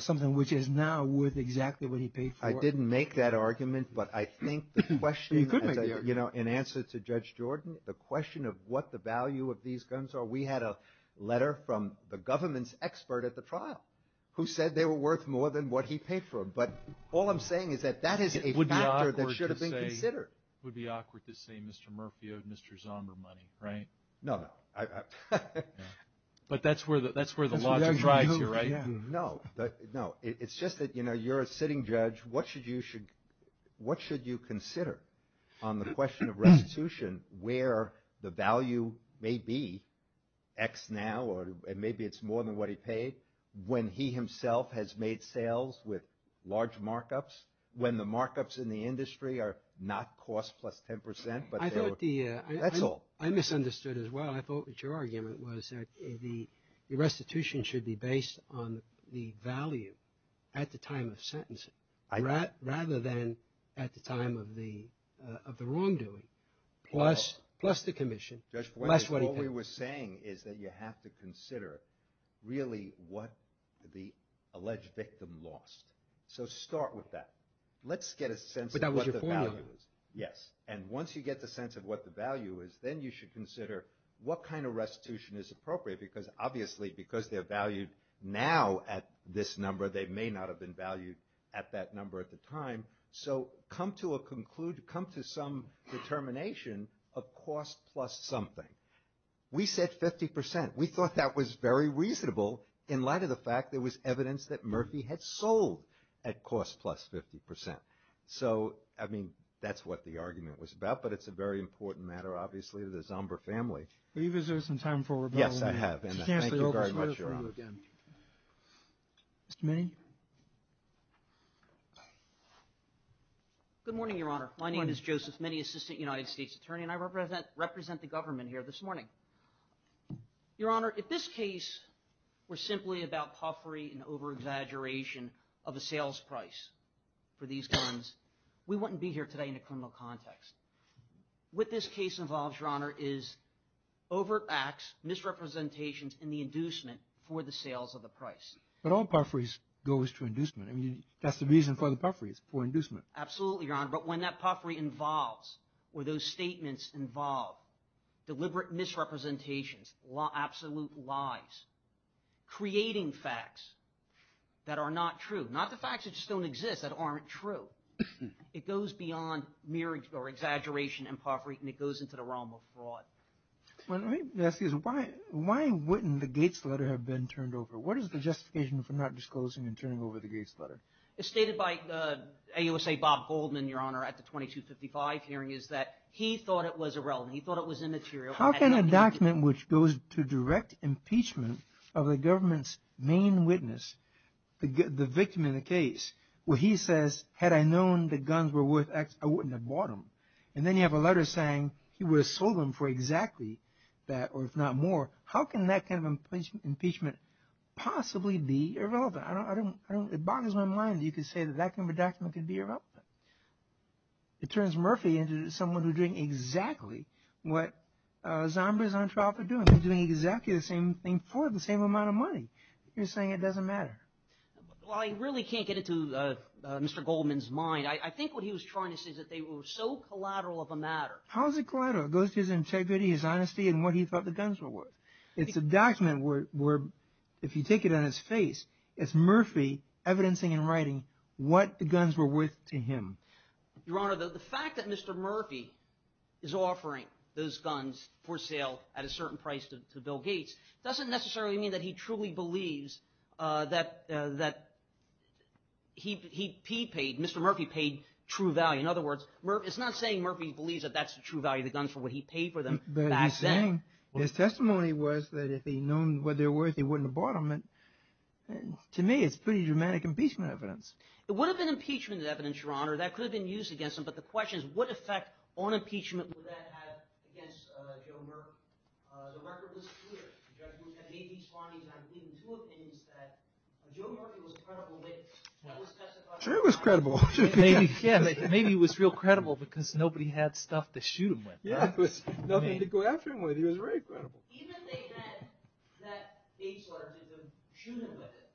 something which is now worth exactly what he paid for. I didn't make that argument, but I think the question— You could make the argument. In answer to Judge Jordan, the question of what the value of these guns are, we had a letter from the government's expert at the trial who said they were worth more than what he paid for them. But all I'm saying is that that is a factor that should have been considered. It would be awkward to say Mr. Murphy owed Mr. Zomber money, right? No. But that's where the logic drives you, right? No. It's just that you're a sitting judge. What should you consider on the question of restitution where the value may be X now or maybe it's more than what he paid when he himself has made sales with large markups, when the markups in the industry are not cost plus 10 percent, but they're— I thought the— That's all. I misunderstood as well. I thought that your argument was that the restitution should be based on the value at the time of sentencing rather than at the time of the wrongdoing plus the commission. All we were saying is that you have to consider really what the alleged victim lost. So start with that. Let's get a sense of what the value is. But that was your point. Yes. And once you get the sense of what the value is, then you should consider what kind of restitution is appropriate because obviously because they're valued now at this number, they may not have been valued at that number at the time. So come to a conclude, come to some determination of cost plus something. We said 50 percent. We thought that was very reasonable in light of the fact there was evidence that Murphy had sold at cost plus 50 percent. So, I mean, that's what the argument was about, but it's a very important matter obviously to the Zomber family. Are you going to reserve some time for rebuttal? Yes, I have. Thank you very much, Your Honor. Mr. Minnie? Good morning, Your Honor. My name is Joseph Minnie, Assistant United States Attorney, and I represent the government here this morning. Your Honor, if this case were simply about puffery and over-exaggeration of the sales price for these guns, we wouldn't be here today in a criminal context. What this case involves, Your Honor, is over-acts, misrepresentations, and the inducement for the sales of the price. But all pufferies goes to inducement. I mean, that's the reason for the pufferies, for inducement. Absolutely, Your Honor, but when that puffery involves or those statements involve deliberate misrepresentations, absolute lies, creating facts that are not true, not the facts that just don't exist, that aren't true. It goes beyond mere exaggeration and puffery, and it goes into the realm of fraud. Let me ask you this. Why wouldn't the Gates letter have been turned over? What is the justification for not disclosing and turning over the Gates letter? It's stated by AUSA Bob Goldman, Your Honor, at the 2255 hearing, is that he thought it was irrelevant. He thought it was immaterial. How can a document which goes to direct impeachment of the government's main witness, the victim in the case, where he says, had I known the guns were worth X, I wouldn't have bought them. And then you have a letter saying he would have sold them for exactly that, or if not more. How can that kind of impeachment possibly be irrelevant? It bothers my mind that you could say that that kind of a document could be irrelevant. It turns Murphy into someone who's doing exactly what Zombers on trial for doing. They're doing exactly the same thing for the same amount of money. You're saying it doesn't matter. Well, I really can't get it to Mr. Goldman's mind. I think what he was trying to say is that they were so collateral of a matter. How is it collateral? It goes to his integrity, his honesty, and what he thought the guns were worth. It's a document where if you take it on its face, it's Murphy evidencing and writing what the guns were worth to him. Your Honor, the fact that Mr. Murphy is offering those guns for sale at a certain price to Bill Gates doesn't necessarily mean that he truly believes that he paid, Mr. Murphy paid, true value. In other words, it's not saying Murphy believes that that's the true value of the guns for what he paid for them back then. But he's saying his testimony was that if he'd known what they were worth, he wouldn't have bought them. To me, it's pretty dramatic impeachment evidence. It would have been impeachment evidence, Your Honor. That could have been used against him. But the question is what effect on impeachment would that have against Joe Murphy? The record was clear. The judge made these findings. I believe in two opinions that Joe Murphy was a credible witness. Sure he was credible. Maybe he was real credible because nobody had stuff to shoot him with. Yeah, there was nothing to go after him with. He was very credible. Even if they had that eight charges of shooting him with it,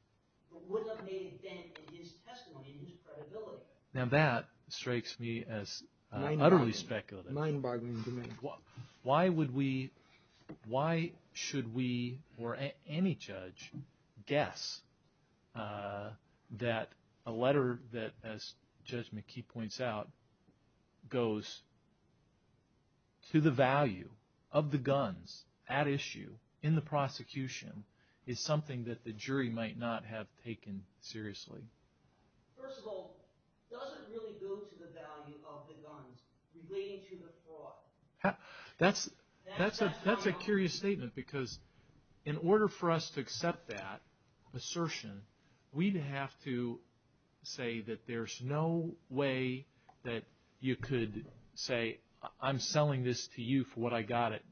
it would have made a dent in his testimony and his credibility. Now that strikes me as utterly speculative. Mind-boggling to me. Why should we or any judge guess that a letter that, as Judge McKee points out, goes to the value of the guns at issue in the prosecution is something that the jury might not have taken seriously? First of all, does it really go to the value of the guns relating to the fraud? That's a curious statement because in order for us to accept that assertion, we'd have to say that there's no way that you could say, I'm selling this to you for what I got it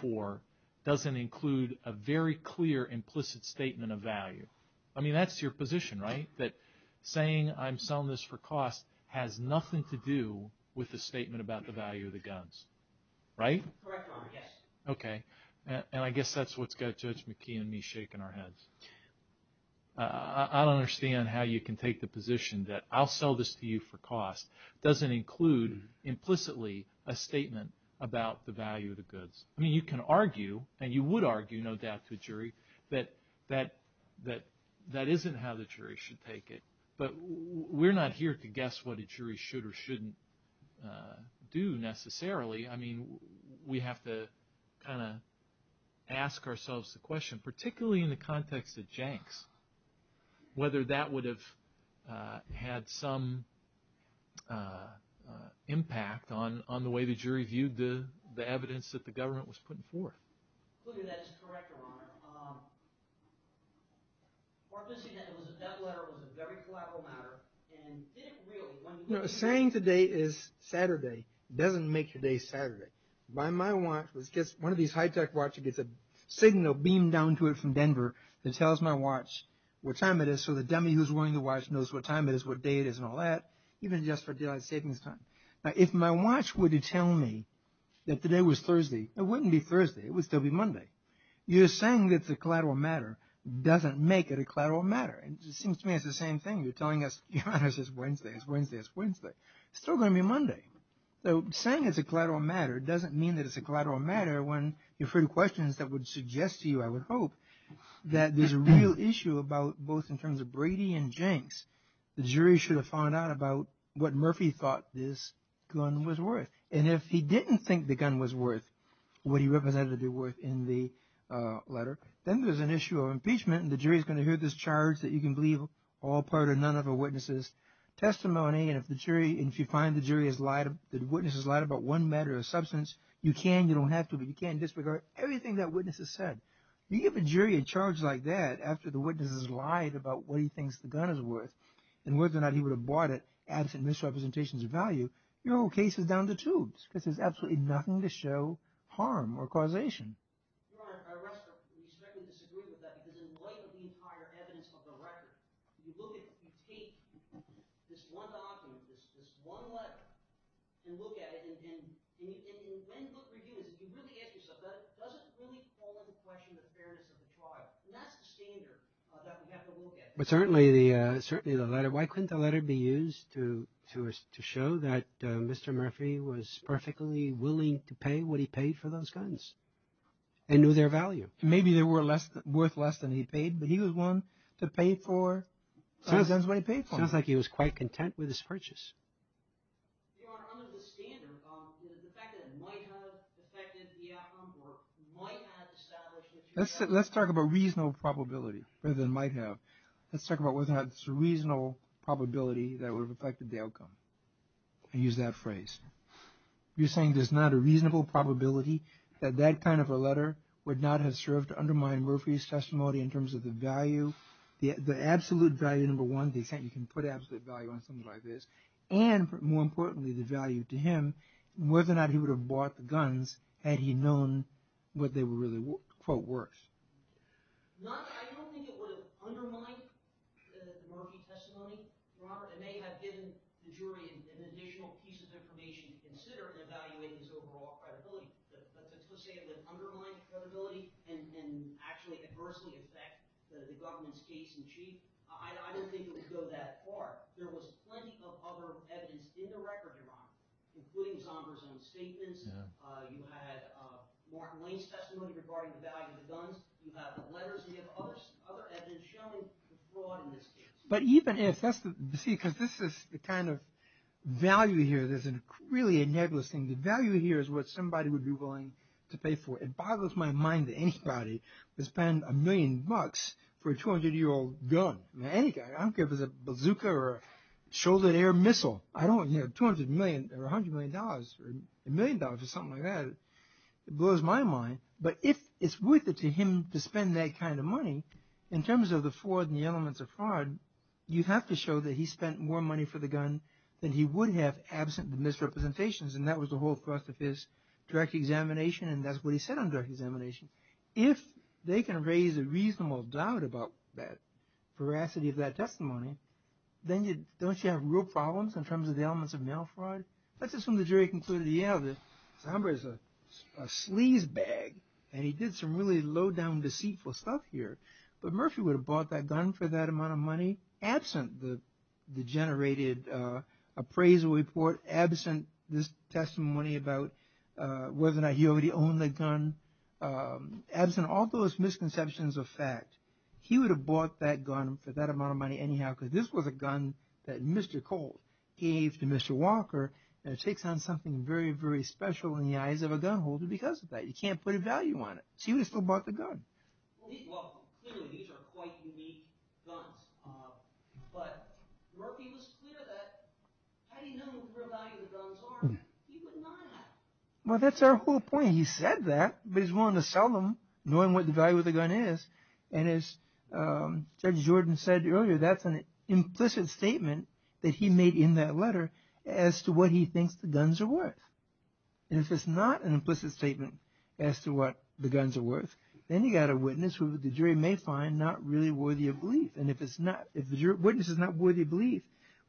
for, doesn't include a very clear implicit statement of value. I mean, that's your position, right? That saying, I'm selling this for cost, has nothing to do with the statement about the value of the guns, right? Correct, Your Honor, yes. Okay. And I guess that's what's got Judge McKee and me shaking our heads. I don't understand how you can take the position that, I'll sell this to you for cost, doesn't include implicitly a statement about the value of the goods. I mean, you can argue, and you would argue no doubt to a jury, that that isn't how the jury should take it. But we're not here to guess what a jury should or shouldn't do necessarily. I mean, we have to kind of ask ourselves the question, particularly in the context of janks, whether that would have had some impact on the way the jury viewed the evidence that the government was putting forth. Look at that as a corrector, Your Honor. Mark, this again, that letter was a very collateral matter, and did it really, when you look at it... You know, saying today is Saturday doesn't make today Saturday. One of these high-tech watches gets a signal beamed down to it from Denver that tells my watch what time it is, so the dummy who's wearing the watch knows what time it is, what day it is, and all that, even just for daylight savings time. Now, if my watch were to tell me that today was Thursday, it wouldn't be Thursday, it would still be Monday. You're saying it's a collateral matter doesn't make it a collateral matter. It seems to me it's the same thing. You're telling us, Your Honor, it's Wednesday, it's Wednesday, it's Wednesday. It's still going to be Monday. So saying it's a collateral matter doesn't mean that it's a collateral matter when you've heard questions that would suggest to you, I would hope, that there's a real issue about both in terms of Brady and janks. The jury should have found out about what Murphy thought this gun was worth, and if he didn't think the gun was worth what he represented it worth in the letter, then there's an issue of impeachment, and the jury's going to hear this charge that you can believe all part or none of a witness' testimony, and if you find the jury has lied, the witness has lied about one matter or substance, you can, you don't have to, but you can't disregard everything that witness has said. You give a jury a charge like that after the witness has lied about what he thinks the gun is worth, and whether or not he would have bought it absent misrepresentations of value, your whole case is down to tubes because there's absolutely nothing to show harm or causation. I respectfully disagree with that because in light of the entire evidence of the record, you look at, you take this one document, this one letter, and look at it, and in many book reviews, if you really ask yourself that, it doesn't really call into question the fairness of the trial, and that's the standard that we have to look at. But certainly the letter, why couldn't the letter be used to show that Mr. Murphy was perfectly willing to pay what he paid for those guns and knew their value? Maybe they were worth less than he paid, but he was willing to pay for those guns when he paid for them. Sounds like he was quite content with his purchase. Your Honor, under the standard, the fact that it might have affected the outcome Let's talk about reasonable probability rather than might have. Let's talk about whether or not it's a reasonable probability that it would have affected the outcome. Use that phrase. You're saying there's not a reasonable probability that that kind of a letter would not have served to undermine Murphy's testimony in terms of the value, the absolute value, number one, the extent you can put absolute value on something like this, and more importantly, the value to him, whether or not he would have bought the guns had he known what they were really, quote, worth. I don't think it would have undermined Murphy's testimony, Robert. It may have given the jury an additional piece of information to consider in evaluating his overall credibility. But to say it would undermine credibility and actually adversely affect the government's case in chief, I don't think it would go that far. There was plenty of other evidence in the record, Your Honor, including Zomber's own statements. You had Martin Lane's testimony regarding the value of the guns. You have the letters. You have other evidence showing the fraud in this case. But even if that's the – see, because this is the kind of value here that's really a nebulous thing. The value here is what somebody would be willing to pay for. It boggles my mind that anybody would spend a million bucks for a 200-year-old gun. I don't care if it's a bazooka or a shoulder-to-air missile. I don't – $200 million or $100 million or a million dollars or something like that. It blows my mind. But if it's worth it to him to spend that kind of money, in terms of the fraud and the elements of fraud, you have to show that he spent more money for the gun than he would have absent the misrepresentations. And that was the whole thrust of his direct examination. And that's what he said on direct examination. If they can raise a reasonable doubt about that veracity of that testimony, then don't you have real problems in terms of the elements of mail fraud? That's just when the jury concluded, yeah, Zambra's a sleazebag, and he did some really low-down deceitful stuff here. But Murphy would have bought that gun for that amount of money absent the generated appraisal report, absent this testimony about whether or not he already owned the gun, absent all those misconceptions of fact. He would have bought that gun for that amount of money anyhow, because this was a gun that Mr. Colt gave to Mr. Walker, and it takes on something very, very special in the eyes of a gun holder because of that. You can't put a value on it. So he would have still bought the gun. Well, clearly these are quite unique guns. But Murphy was clear that had he known what the real value of the guns are, he would not have. Well, that's our whole point. He said that, but he's willing to sell them knowing what the value of the gun is. And as Judge Jordan said earlier, that's an implicit statement that he made in that letter as to what he thinks the guns are worth. And if it's not an implicit statement as to what the guns are worth, then you've got a witness who the jury may find not really worthy of belief. And if the witness is not worthy of belief,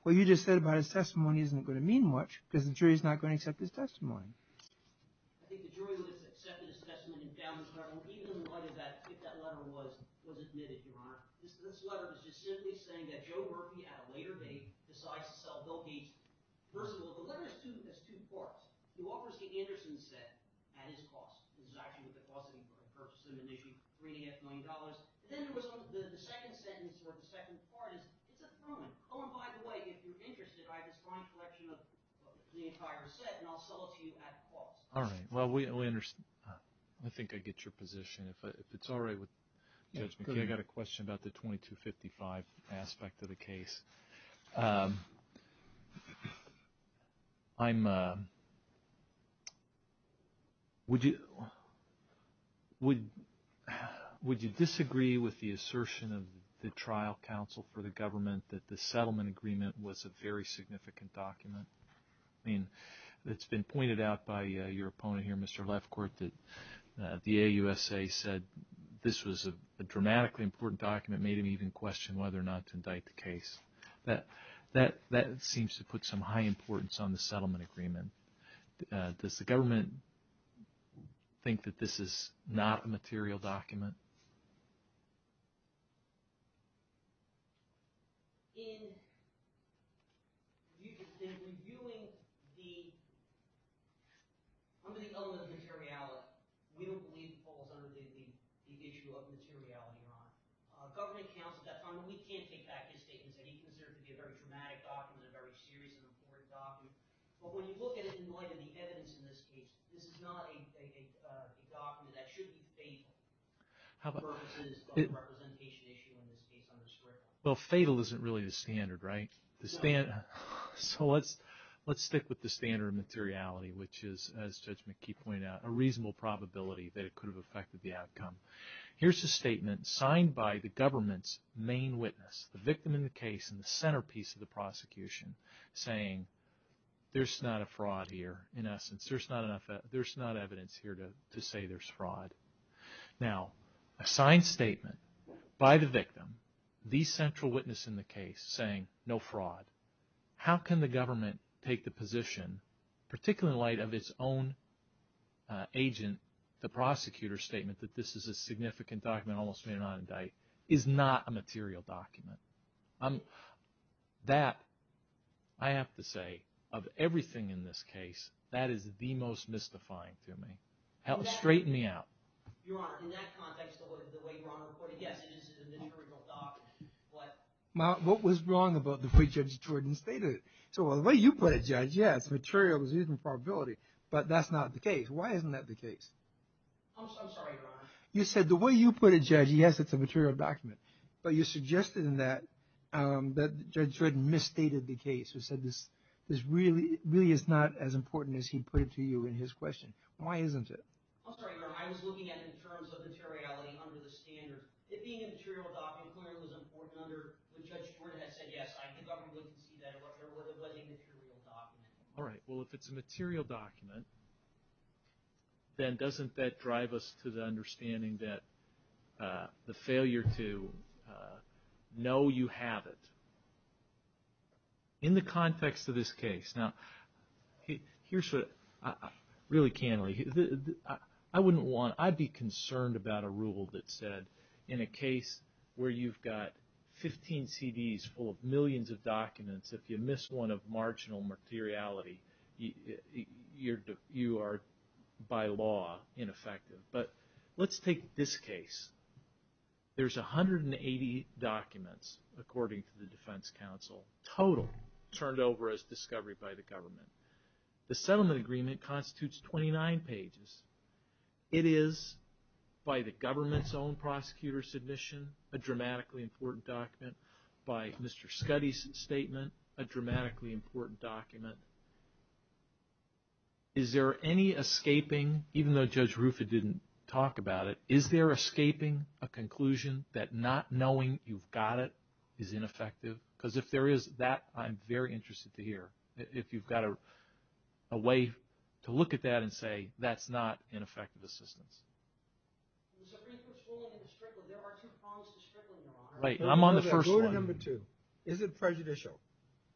what you just said about his testimony isn't going to mean much because the jury is not going to accept his testimony. All right. Well, I think I get your position. If it's all right with Judge McKee, I've got a question about the 2255 aspect of the case. Would you disagree with the assertion of the trial counsel for the government that the settlement agreement was a very significant document? I mean, it's been pointed out by your opponent here, Mr. Lefkowit, that the AUSA said this was a dramatically important document, made him even question whether or not to indict the case. That seems to put some high importance on the settlement agreement. Does the government think that this is not a material document? In reviewing the element of materiality, we don't believe it falls under the issue of materiality. We can't take back his statements that he considered to be a very dramatic document, a very serious and important document. But when you look at it in light of the evidence in this case, this is not a document that should be fatal for purposes of representation issue in this case. Well, fatal isn't really the standard, right? So let's stick with the standard of materiality, which is, as Judge McKee pointed out, a reasonable probability that it could have affected the outcome. Here's a statement signed by the government's main witness, the victim in the case and the centerpiece of the prosecution, saying there's not a fraud here. In essence, there's not enough evidence here to say there's fraud. Now, a signed statement by the victim, the central witness in the case, saying no fraud. How can the government take the position, particularly in light of its own agent, the prosecutor's statement that this is a significant document, almost made an on-indict, is not a material document? That, I have to say, of everything in this case, that is the most mystifying to me. Straighten me out. Your Honor, in that context, the way you're on the report, yes, it is a material document. What was wrong about the way Judge Jordan stated it? So the way you put it, Judge, yes, material is a reasonable probability, but that's not the case. Why isn't that the case? I'm sorry, Your Honor. You said the way you put it, Judge, yes, it's a material document, but you suggested in that that Judge Jordan misstated the case and said this really is not as important as he put it to you in his question. Why isn't it? I'm sorry, Your Honor. I was looking at it in terms of materiality under the standard. It being a material document clearly was important under what Judge Jordan had said. Yes, I think the government would concede that it was a material document. All right. Well, if it's a material document, then doesn't that drive us to the understanding that the failure to know you have it? In the context of this case, now, here's what, really candidly, I wouldn't want, I'd be concerned about a rule that said in a case where you've got 15 CDs full of millions of documents, if you miss one of marginal materiality, you are, by law, ineffective. But let's take this case. There's 180 documents, according to the defense counsel, total turned over as discovery by the government. The settlement agreement constitutes 29 pages. It is, by the government's own prosecutor's admission, a dramatically important document. By Mr. Scuddy's statement, a dramatically important document. Is there any escaping, even though Judge Rufa didn't talk about it, is there escaping a conclusion that not knowing you've got it is ineffective? Because if there is, that I'm very interested to hear, if you've got a way to look at that and say that's not ineffective assistance. There are two prongs to strickling, Your Honor. I'm on the first one. Rule number two, is it prejudicial?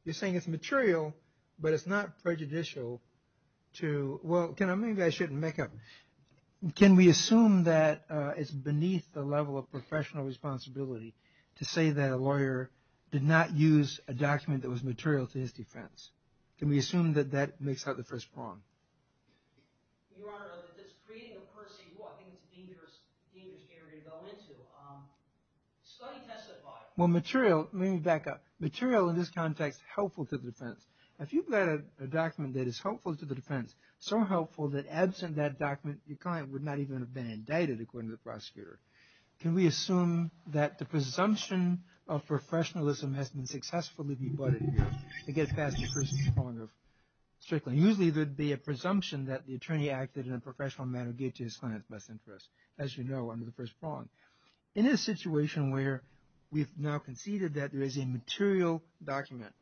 You're saying it's material, but it's not prejudicial to, well, maybe I shouldn't make a, can we assume that it's beneath the level of professional responsibility to say that a lawyer did not use a document that was material to his defense? Can we assume that that makes out the first prong? Your Honor, this is creating a per se, well, I think it's a dangerous area to go into. Scuddy testified. Well, material, let me back up. Material in this context, helpful to the defense. If you've got a document that is helpful to the defense, so helpful that absent that document, your client would not even have been indicted, according to the prosecutor. Can we assume that the presumption of professionalism has been successfully rebutted to get past the first prong of strickling? Now, usually there would be a presumption that the attorney acted in a professional manner to get to his client's best interest, as you know, under the first prong. In this situation where we've now conceded that there is a material document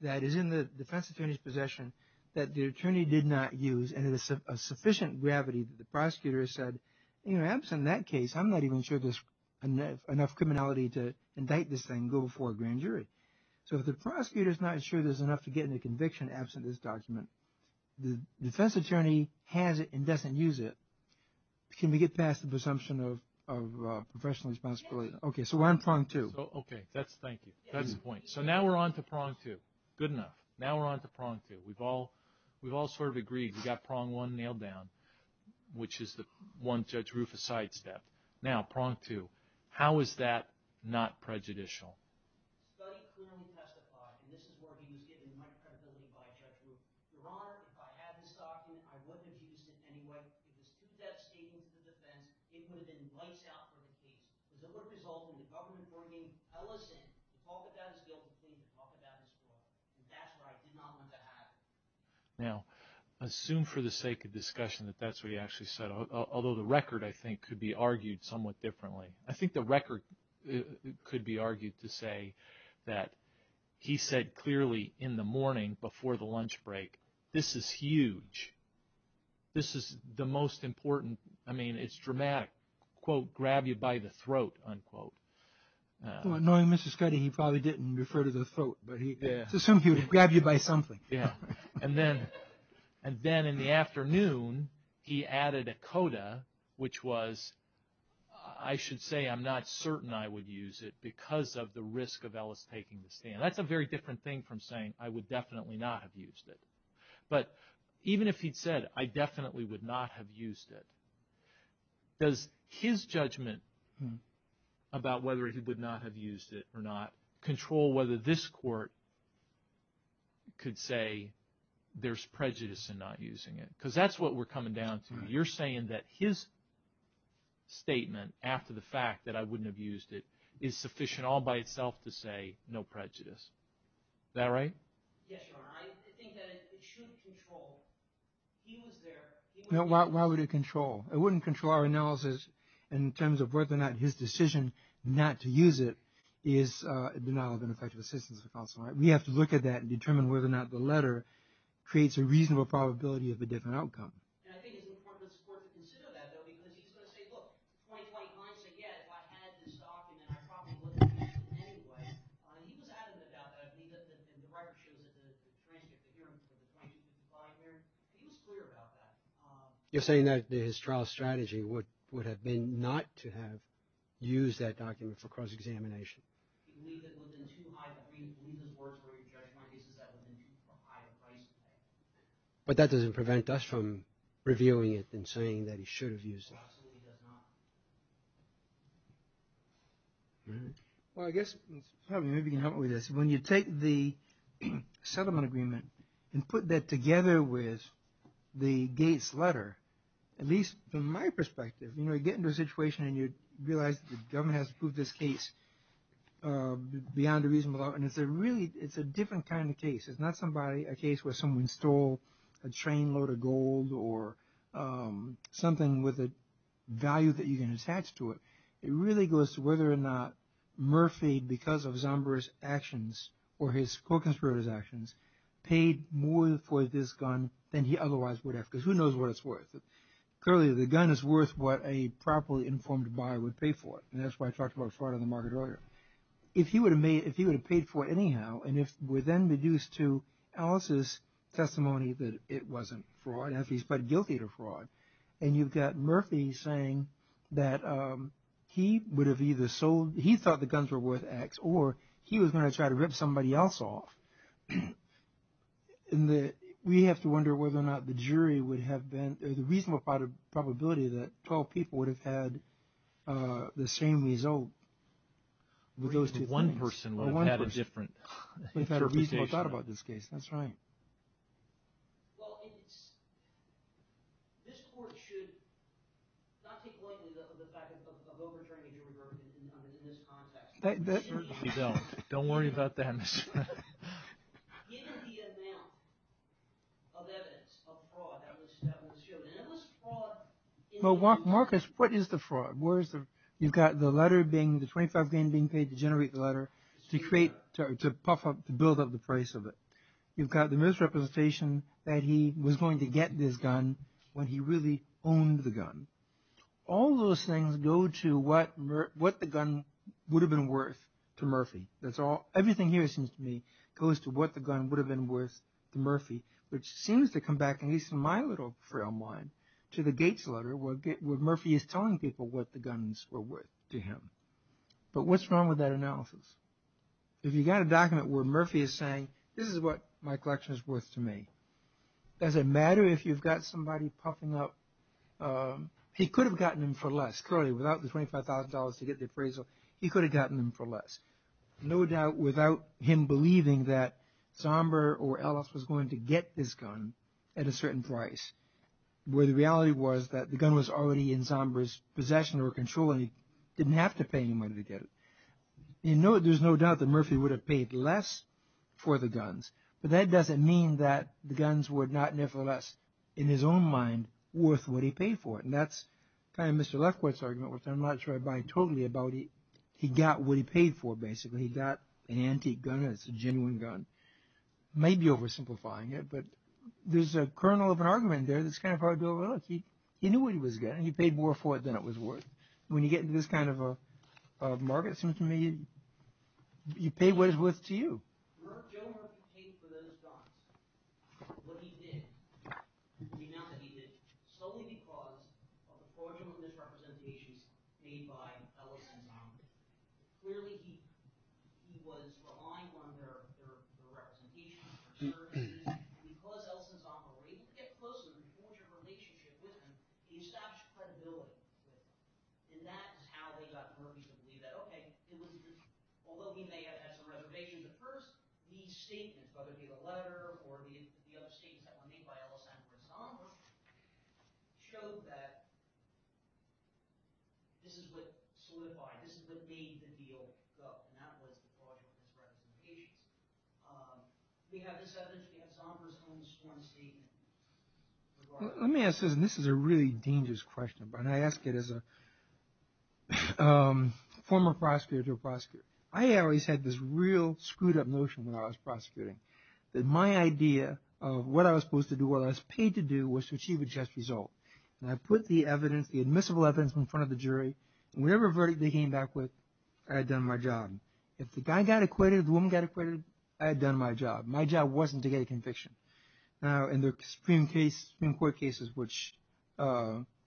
that is in the defense attorney's possession that the attorney did not use and it is of sufficient gravity that the prosecutor said, you know, absent that case, I'm not even sure there's enough criminality to indict this thing and go before a grand jury. So if the prosecutor is not sure there's enough to get into conviction absent this document, the defense attorney has it and doesn't use it, can we get past the presumption of professional responsibility? Yes. Okay, so we're on prong two. Okay, thank you. That's the point. So now we're on to prong two. Good enough. Now we're on to prong two. We've all sort of agreed. We've got prong one nailed down, which is the one Judge Rufus sidestepped. Now, prong two, how is that not prejudicial? The study clearly testified, and this is where he was given the right credibility by Judge Rufus, Your Honor, if I had this document, I wouldn't have used it anyway. It was a two-step statement to the defense. It would have been right sound for the case. It would have resulted in the government bringing Ellis in to talk about his guilt and for him to talk about his fault. And that's where I did not want that to happen. Now, assume for the sake of discussion that that's what he actually said, although the record, I think, could be argued somewhat differently. I think the record could be argued to say that he said clearly in the morning before the lunch break, this is huge. This is the most important. I mean, it's dramatic. Quote, grab you by the throat, unquote. Knowing Mr. Scuddy, he probably didn't refer to the throat, but let's assume he would grab you by something. And then in the afternoon, he added a coda, which was, I should say I'm not certain I would use it because of the risk of Ellis taking the stand. That's a very different thing from saying I would definitely not have used it. But even if he'd said I definitely would not have used it, does his judgment about whether he would not have used it or not control whether this court could say there's prejudice in not using it? Because that's what we're coming down to. You're saying that his statement after the fact that I wouldn't have used it is sufficient all by itself to say no prejudice. Is that right? Yes, Your Honor. I think that it should control. He was there. Why would it control? It wouldn't control our analysis in terms of whether or not his decision not to use it is a denial of an effective assistance for counsel. We have to look at that and determine whether or not the letter creates a reasonable probability of a different outcome. And I think it's important for the court to consider that, though, because he's going to say, look, point blank, I'm saying, yeah, if I had this document, I probably would have used it anyway. He was adamant about that. And the record shows that the transcript, the hearing, the information that was provided there, he was clear about that. You're saying that his trial strategy would have been not to have used that document for cross-examination? He believed that within two words where he judged my case, that would have been too high a price to pay. But that doesn't prevent us from reviewing it and saying that he should have used it. It absolutely does not. All right. Well, I guess maybe you can help me with this. When you take the settlement agreement and put that together with the Gates letter, at least from my perspective, you know, the government has to prove this case beyond a reasonable doubt. And it's a different kind of case. It's not a case where someone stole a trainload of gold or something with a value that you can attach to it. It really goes to whether or not Murphy, because of Zomber's actions or his co-conspirator's actions, paid more for this gun than he otherwise would have, because who knows what it's worth. Clearly the gun is worth what a properly informed buyer would pay for it. And that's why I talked about fraud on the market earlier. If he would have paid for it anyhow and if we're then reduced to Alice's testimony that it wasn't fraud, at least but guilty of fraud, and you've got Murphy saying that he would have either sold – he thought the guns were worth X or he was going to try to rip somebody else off. And we have to wonder whether or not the jury would have been – the reasonable probability that 12 people would have had the same result with those two things. One person would have had a different interpretation. One person would have had a reasonable thought about this case. That's right. Well, this court should not take lightly the fact of overturning a jury verdict in this context. We don't. Don't worry about that. Well, Marcus, what is the fraud? You've got the letter being – the $25,000 being paid to generate the letter to create – to puff up – to build up the price of it. You've got the misrepresentation that he was going to get this gun when he really owned the gun. All those things go to what the gun would have been worth to Murphy. That's all – everything here, it seems to me, goes to what the gun would have been worth to Murphy, which seems to come back, at least in my little frail mind, to the Gates letter where Murphy is telling people what the guns were worth to him. But what's wrong with that analysis? If you've got a document where Murphy is saying this is what my collection is worth to me, does it matter if you've got somebody puffing up – he could have gotten them for less. Clearly, without the $25,000 to get the appraisal, he could have gotten them for less. No doubt without him believing that Zomber or Ellis was going to get this gun at a certain price, where the reality was that the gun was already in Zomber's possession or control and he didn't have to pay anybody to get it. There's no doubt that Murphy would have paid less for the guns, but that doesn't mean that the guns were not, nevertheless, in his own mind, worth what he paid for it. And that's kind of Mr. Lefkowitz's argument, which I'm not sure I buy totally, about he got what he paid for, basically. He got an antique gun, and it's a genuine gun. I may be oversimplifying it, but there's a kernel of an argument there that's kind of hard to overlook. He knew what he was getting. He paid more for it than it was worth. When you get into this kind of a market, it seems to me, you pay what it's worth to you. Joe Murphy paid for those guns. What he did, the amount that he did, solely because of the fraudulent misrepresentations made by Ellis and Zomber. Clearly, he was relying on their representations, their services, and because Ellis and Zomber were able to get closer and forge a relationship with him, he established credibility with them. Although he may have had some reservations at first, these statements, whether it be a letter or the other statements that were made by Ellis and Zomber, showed that this is what solidified, this is what made the deal go, and that was the fraudulent misrepresentations. We have this evidence. We have Zomber's own sworn statement. Let me ask this, and this is a really dangerous question, but I ask it as a former prosecutor to a prosecutor. I always had this real screwed up notion when I was prosecuting, that my idea of what I was supposed to do, what I was paid to do, was to achieve a just result. I put the evidence, the admissible evidence, in front of the jury, and whatever verdict they came back with, I had done my job. If the guy got acquitted, the woman got acquitted, I had done my job. My job wasn't to get a conviction. Now, in the Supreme Court cases, which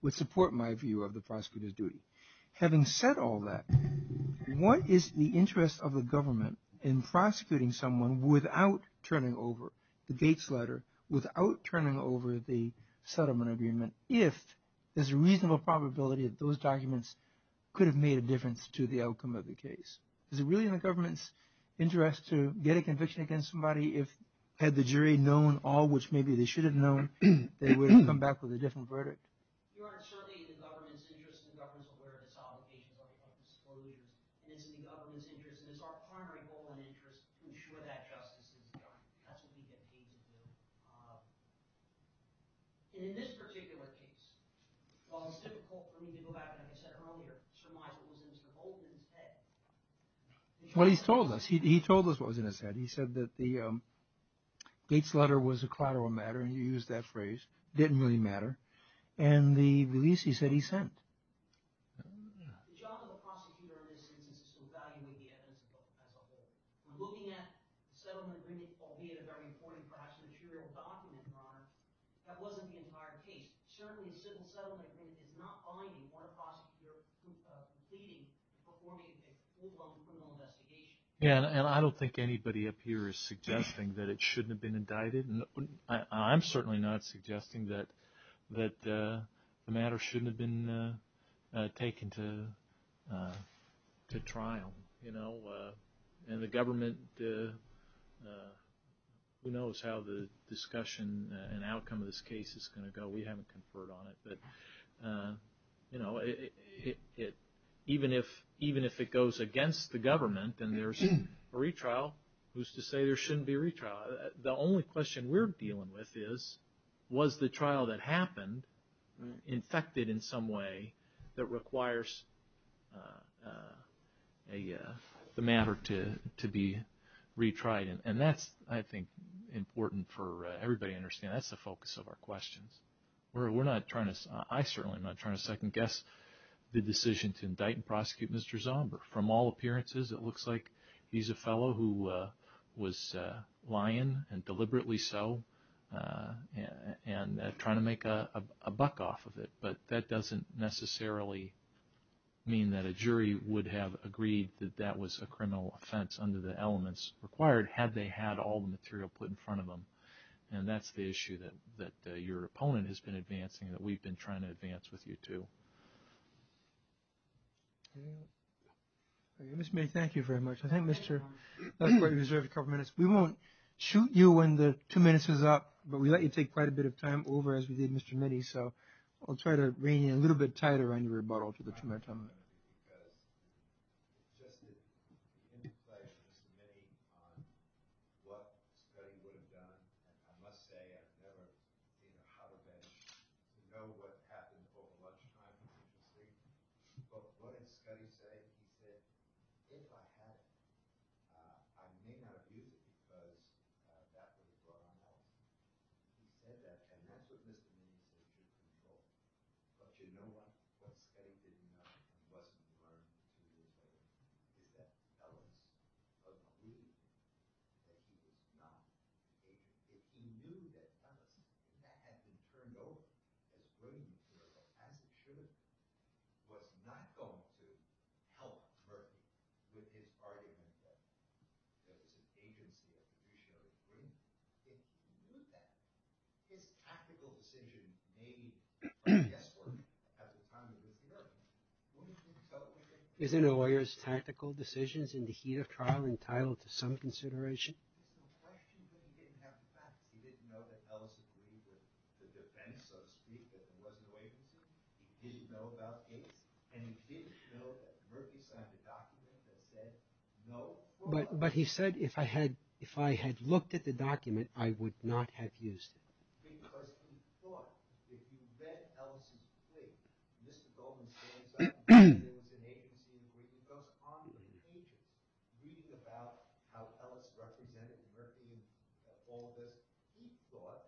would support my view of the prosecutor's duty. Having said all that, what is the interest of the government in prosecuting someone without turning over the Gates letter, without turning over the settlement agreement, if there's a reasonable probability that those documents could have made a difference to the outcome of the case? Is it really in the government's interest to get a conviction against somebody if, had the jury known all which maybe they should have known, they would have come back with a different verdict? Your Honor, it's certainly in the government's interest, and the government is aware of this obligation, and it's in the government's interest, and it's our primary goal and interest to ensure that justice is done. That's what we get paid to do. And in this particular case, while it's difficult for me to go back, like I said earlier, to surmise what was in Mr. Goldman's head. Well, he's told us. He told us what was in his head. He said that the Gates letter was a collateral matter, and he used that phrase. It didn't really matter. And the release, he said, he sent. The job of the prosecutor in this instance is to evaluate the evidence as a whole. We're looking at the settlement agreement, albeit a very important, perhaps material document, Your Honor. That wasn't the entire case. Certainly, a settlement agreement is not binding on a prosecutor completing and performing a full-blown criminal investigation. Yeah, and I don't think anybody up here is suggesting that it shouldn't have been indicted. I'm certainly not suggesting that the matter shouldn't have been taken to trial, you know. And the government knows how the discussion and outcome of this case is going to go. We haven't conferred on it. But, you know, even if it goes against the government and there's a retrial, who's to say there shouldn't be a retrial? The only question we're dealing with is, was the trial that happened infected in some way that requires the matter to be retried? And that's, I think, important for everybody to understand. That's the focus of our questions. We're not trying to – I certainly am not trying to second-guess the decision to indict and prosecute Mr. Zomber. From all appearances, it looks like he's a fellow who was lying, and deliberately so, and trying to make a buck off of it. But that doesn't necessarily mean that a jury would have agreed that that was a criminal offense under the elements required, had they had all the material put in front of them. And that's the issue that your opponent has been advancing and that we've been trying to advance with you, too. Mr. Mitty, thank you very much. I think Mr. – we won't shoot you when the two minutes is up, but we let you take quite a bit of time over, as we did Mr. Mitty. So I'll try to rein in a little bit tighter on your rebuttal to the two-minute time limit. Because just the interplay of Mr. Mitty on what Scuddy would have done – and I must say I've never been in a holodeck to know what happened before lunchtime and after sleep. But what did Scuddy say? He said, if I had it, I may not have used it because that was what I had. He said that, and that's what Mr. Mitty has been told. But you know what? What Scuddy didn't know, and wasn't learned, is that Ellis was not willing to use it, that he was not able to use it. He knew that Ellis, when that had been turned over, that he wouldn't use it, or, as it should have, was not going to help Murphy with his argument that there was an agency that traditionally wouldn't use it. He knew that. His tactical decision made by guesswork at the time of Mr. Murphy. Wouldn't you tell a lawyer? Isn't a lawyer's tactical decisions in the heat of trial entitled to some consideration? There were questions that he didn't have the facts. He didn't know that Ellis agreed with the defense, so to speak, that there was an agency. He didn't know about Ace. And he didn't know that Murphy signed the document that said, no. But he said, if I had looked at the document, I would not have used it. Because he thought, if he read Ellis' plea, Mr. Goldman's case, that there was an agency that goes on to engage him. Reading about how Ellis represented Murphy and all of this, he thought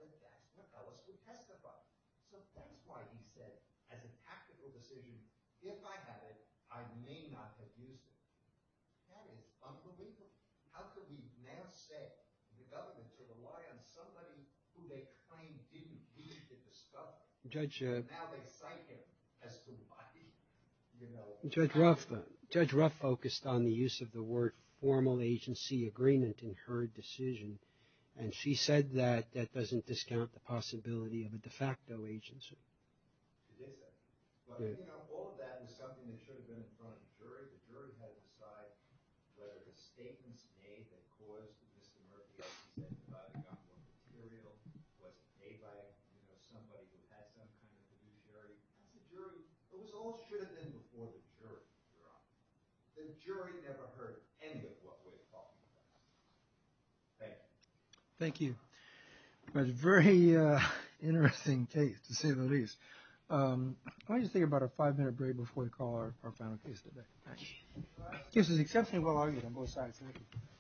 that Ellis would testify. So that's why he said, as a tactical decision, if I had it, I may not have used it. That is unbelievable. How could we now say, in development, to rely on somebody who they claimed didn't need to discuss? Now they cite him as somebody, you know. Judge Ruff focused on the use of the word formal agency agreement in her decision. And she said that that doesn't discount the possibility of a de facto agency. It isn't. But, you know, all of that was something that should have been in front of the jury. The jury had to decide whether the statements made that caused Mr. Murphy to testify to the government material wasn't made by somebody who had some kind of fiduciary. It was all should have been before the jury. The jury never heard any of what we're talking about. Thank you. Thank you. That's a very interesting case, to say the least. I want you to think about a five-minute break before we call our final case today. Thanks. This is exceptionally well argued on both sides. Thank you.